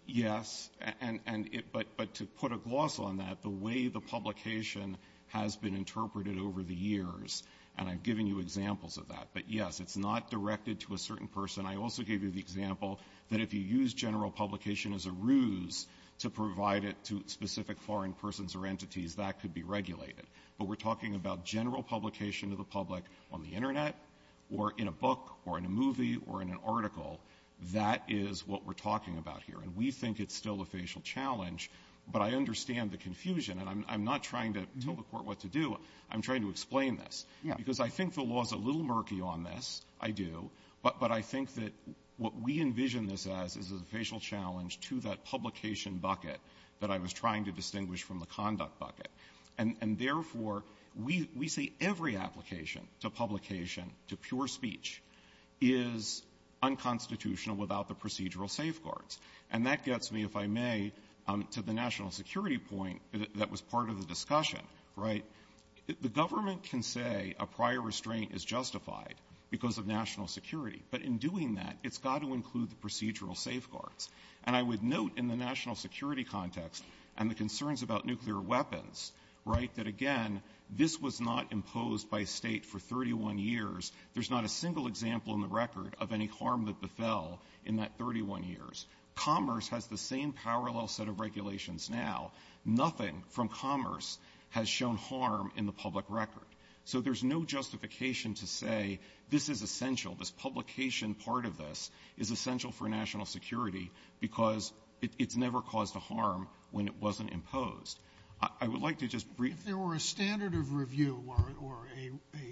Yes. And it ---- but to put a gloss on that, the way the publication has been interpreted over the years, and I've given you examples of that. But, yes, it's not directed to a certain person. I also gave you the example that if you use general publication as a ruse to provide it to specific foreign persons or entities, that could be regulated. But we're talking about general publication to the public on the Internet or in a book or in a movie or in an article. That is what we're talking about here. And we think it's still a facial challenge, but I understand the confusion. And I'm not trying to tell the Court what to do. I'm trying to explain this. Yeah. Because I think the law is a little murky on this. I do. But I think that what we envision this as is a facial challenge to that publication bucket that I was trying to distinguish from the conduct bucket. And, therefore, we say every application to publication, to pure speech, is unconstitutional without the procedural safeguards. And that gets me, if I may, to the national security point that was part of the discussion. Right? The government can say a prior restraint is justified because of national security. But in doing that, it's got to include the procedural safeguards. And I would note in the national security context and the concerns about nuclear weapons, right, that, again, this was not imposed by a State for 31 years. There's not a single example in the record of any harm that befell in that 31 years. Commerce has the same parallel set of regulations now. Nothing from commerce has shown harm in the public record. So there's no justification to say this is essential, this publication part of this is essential for national security because it's never caused a harm when it wasn't imposed. I would like to just brief you. If there were a standard of review or a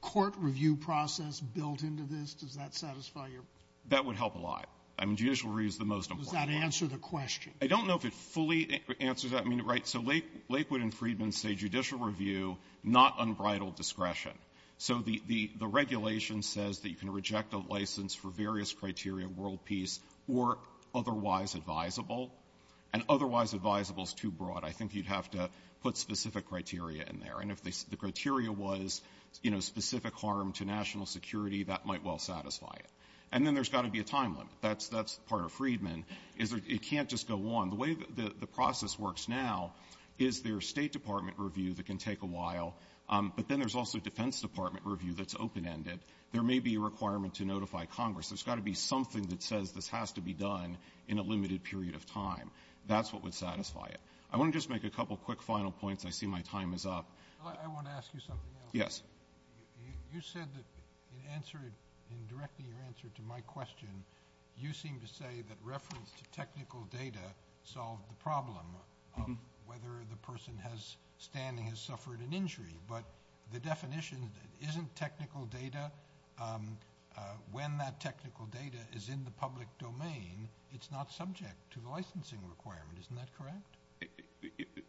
court review process built into this, does that satisfy your question? That would help a lot. I mean, judicial review is the most important part. Does that answer the question? I don't know if it fully answers that. I mean, right. So Lakewood and Freedman say judicial review, not unbridled discretion. So the regulation says that you can reject a license for various criteria, world peace, or otherwise advisable, and otherwise advisable is too broad. I think you'd have to put specific criteria in there. And if the criteria was, you know, specific harm to national security, that might well satisfy it. And then there's got to be a time limit. That's part of Freedman. It can't just go on. The way the process works now is there's State Department review that can take a while, but then there's also Defense Department review that's open-ended. There may be a requirement to notify Congress. There's got to be something that says this has to be done in a limited period of time. That's what would satisfy it. I want to just make a couple quick final points. I see my time is up. I want to ask you something else. Yes. You said that in answering, in directing your answer to my question, you seem to say that reference to technical data solved the problem of whether the person standing has suffered an injury. But the definition isn't technical data. When that technical data is in the public domain, it's not subject to the licensing requirement. Isn't that correct?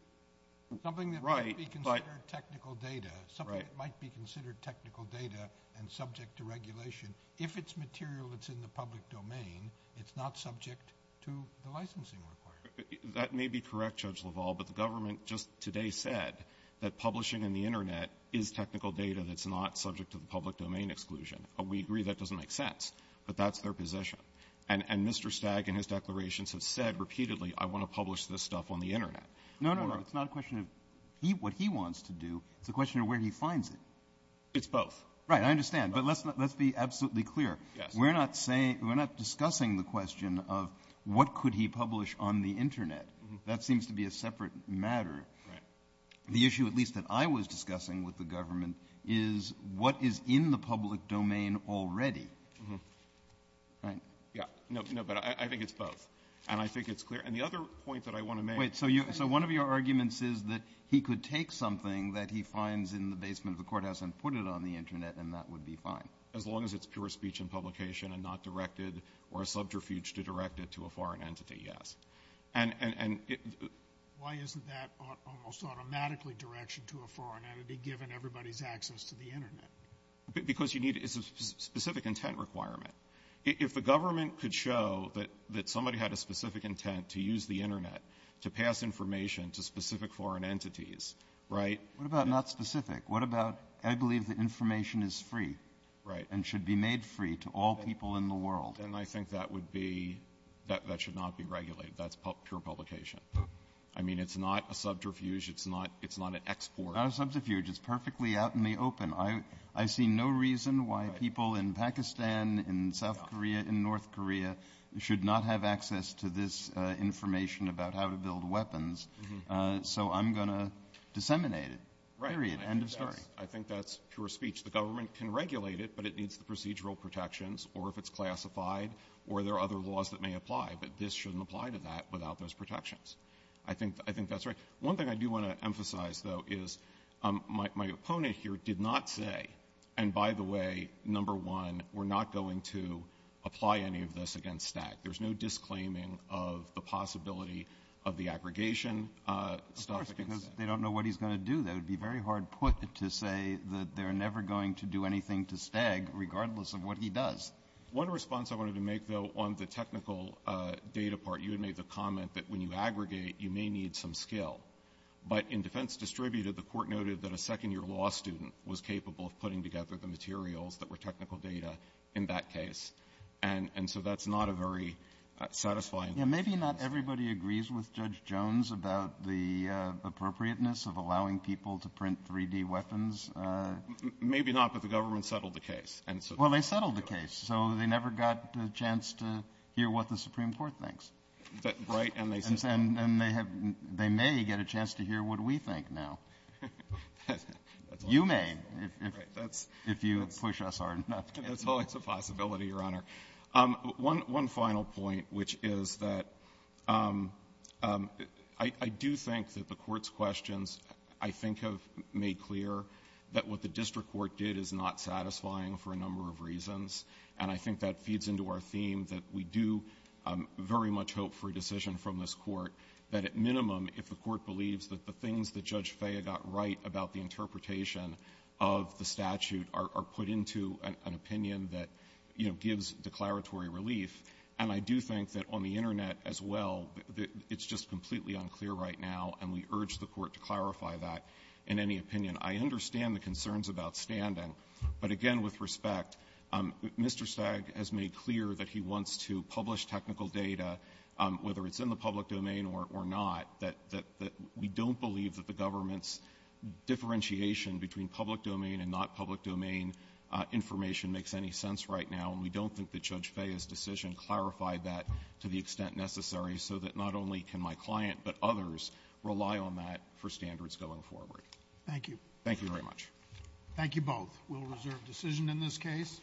Something that might be considered technical data, something that might be considered technical data and subject to regulation. If it's material that's in the public domain, it's not subject to the licensing requirement. That may be correct, Judge LaValle, but the government just today said that publishing in the Internet is technical data that's not subject to the public domain exclusion. We agree that doesn't make sense, but that's their position. And Mr. Stagg and his declarations have said repeatedly, I want to publish this stuff on the Internet. No, no, no. It's not a question of what he wants to do. It's a question of where he finds it. It's both. Right. I understand. But let's be absolutely clear. We're not discussing the question of what could he publish on the Internet. That seems to be a separate matter. The issue, at least that I was discussing with the government, is what is in the public domain already. Right? No, but I think it's both, and I think it's clear. And the other point that I want to make is that he could take something that he finds in the basement of the courthouse and put it on the Internet, and that would be fine. As long as it's pure speech and publication and not directed or a subterfuge to direct it to a foreign entity, yes. And why isn't that almost automatically direction to a foreign entity, given everybody's access to the Internet? Because you need a specific intent requirement. If the government could show that somebody had a specific intent to use the Internet to pass information to specific foreign entities, right? What about not specific? What about, I believe the information is free and should be made free to all people in the world. And I think that would be, that should not be regulated. That's pure publication. I mean, it's not a subterfuge. It's not an export. Not a subterfuge. It's perfectly out in the open. I see no reason why people in Pakistan, in South Korea, in North Korea should not have access to this information about how to build weapons. So I'm going to disseminate it, period. End of story. I think that's pure speech. The government can regulate it, but it needs the procedural protections, or if it's classified, or there are other laws that may apply. But this shouldn't apply to that without those protections. I think that's right. One thing I do want to emphasize, though, is my opponent here did not say, and by the way, number one, we're not going to apply any of this against STAC. There's no disclaiming of the possibility of the aggregation stuff against STAC. Of course, because they don't know what he's going to do. That would be very hard put to say that they're never going to do anything to STAG, regardless of what he does. One response I wanted to make, though, on the technical data part, you had made the comment that when you aggregate, you may need some skill. But in defense distributed, the Court noted that a second-year law student was capable of putting together the materials that were technical data in that case. And so that's not a very satisfying case. Kennedy. Maybe not everybody agrees with Judge Jones about the appropriateness of allowing people to print 3-D weapons. Maybe not, but the government settled the case. Well, they settled the case. So they never got a chance to hear what the Supreme Court thinks. Right. And they may get a chance to hear what we think now. You may, if you push us hard enough. That's always a possibility, Your Honor. One final point, which is that I do think that the Court's questions, I think, have made clear that what the district court did is not satisfying for a number of reasons. And I think that feeds into our theme that we do very much hope for a decision from this Court that at minimum, if the Court believes that the things that Judge Stagg has made clear are in any opinion that, you know, gives declaratory relief, and I do think that on the Internet as well, it's just completely unclear right now, and we urge the Court to clarify that in any opinion. I understand the concerns about standing, but again, with respect, Mr. Stagg has made clear that he wants to publish technical data, whether it's in the public domain or not, that we don't believe that the government's differentiation between public domain information makes any sense right now, and we don't think that Judge Fea's decision clarified that to the extent necessary so that not only can my client, but others, rely on that for standards going forward. Thank you. Thank you very much. Thank you both. We'll reserve decision in this case.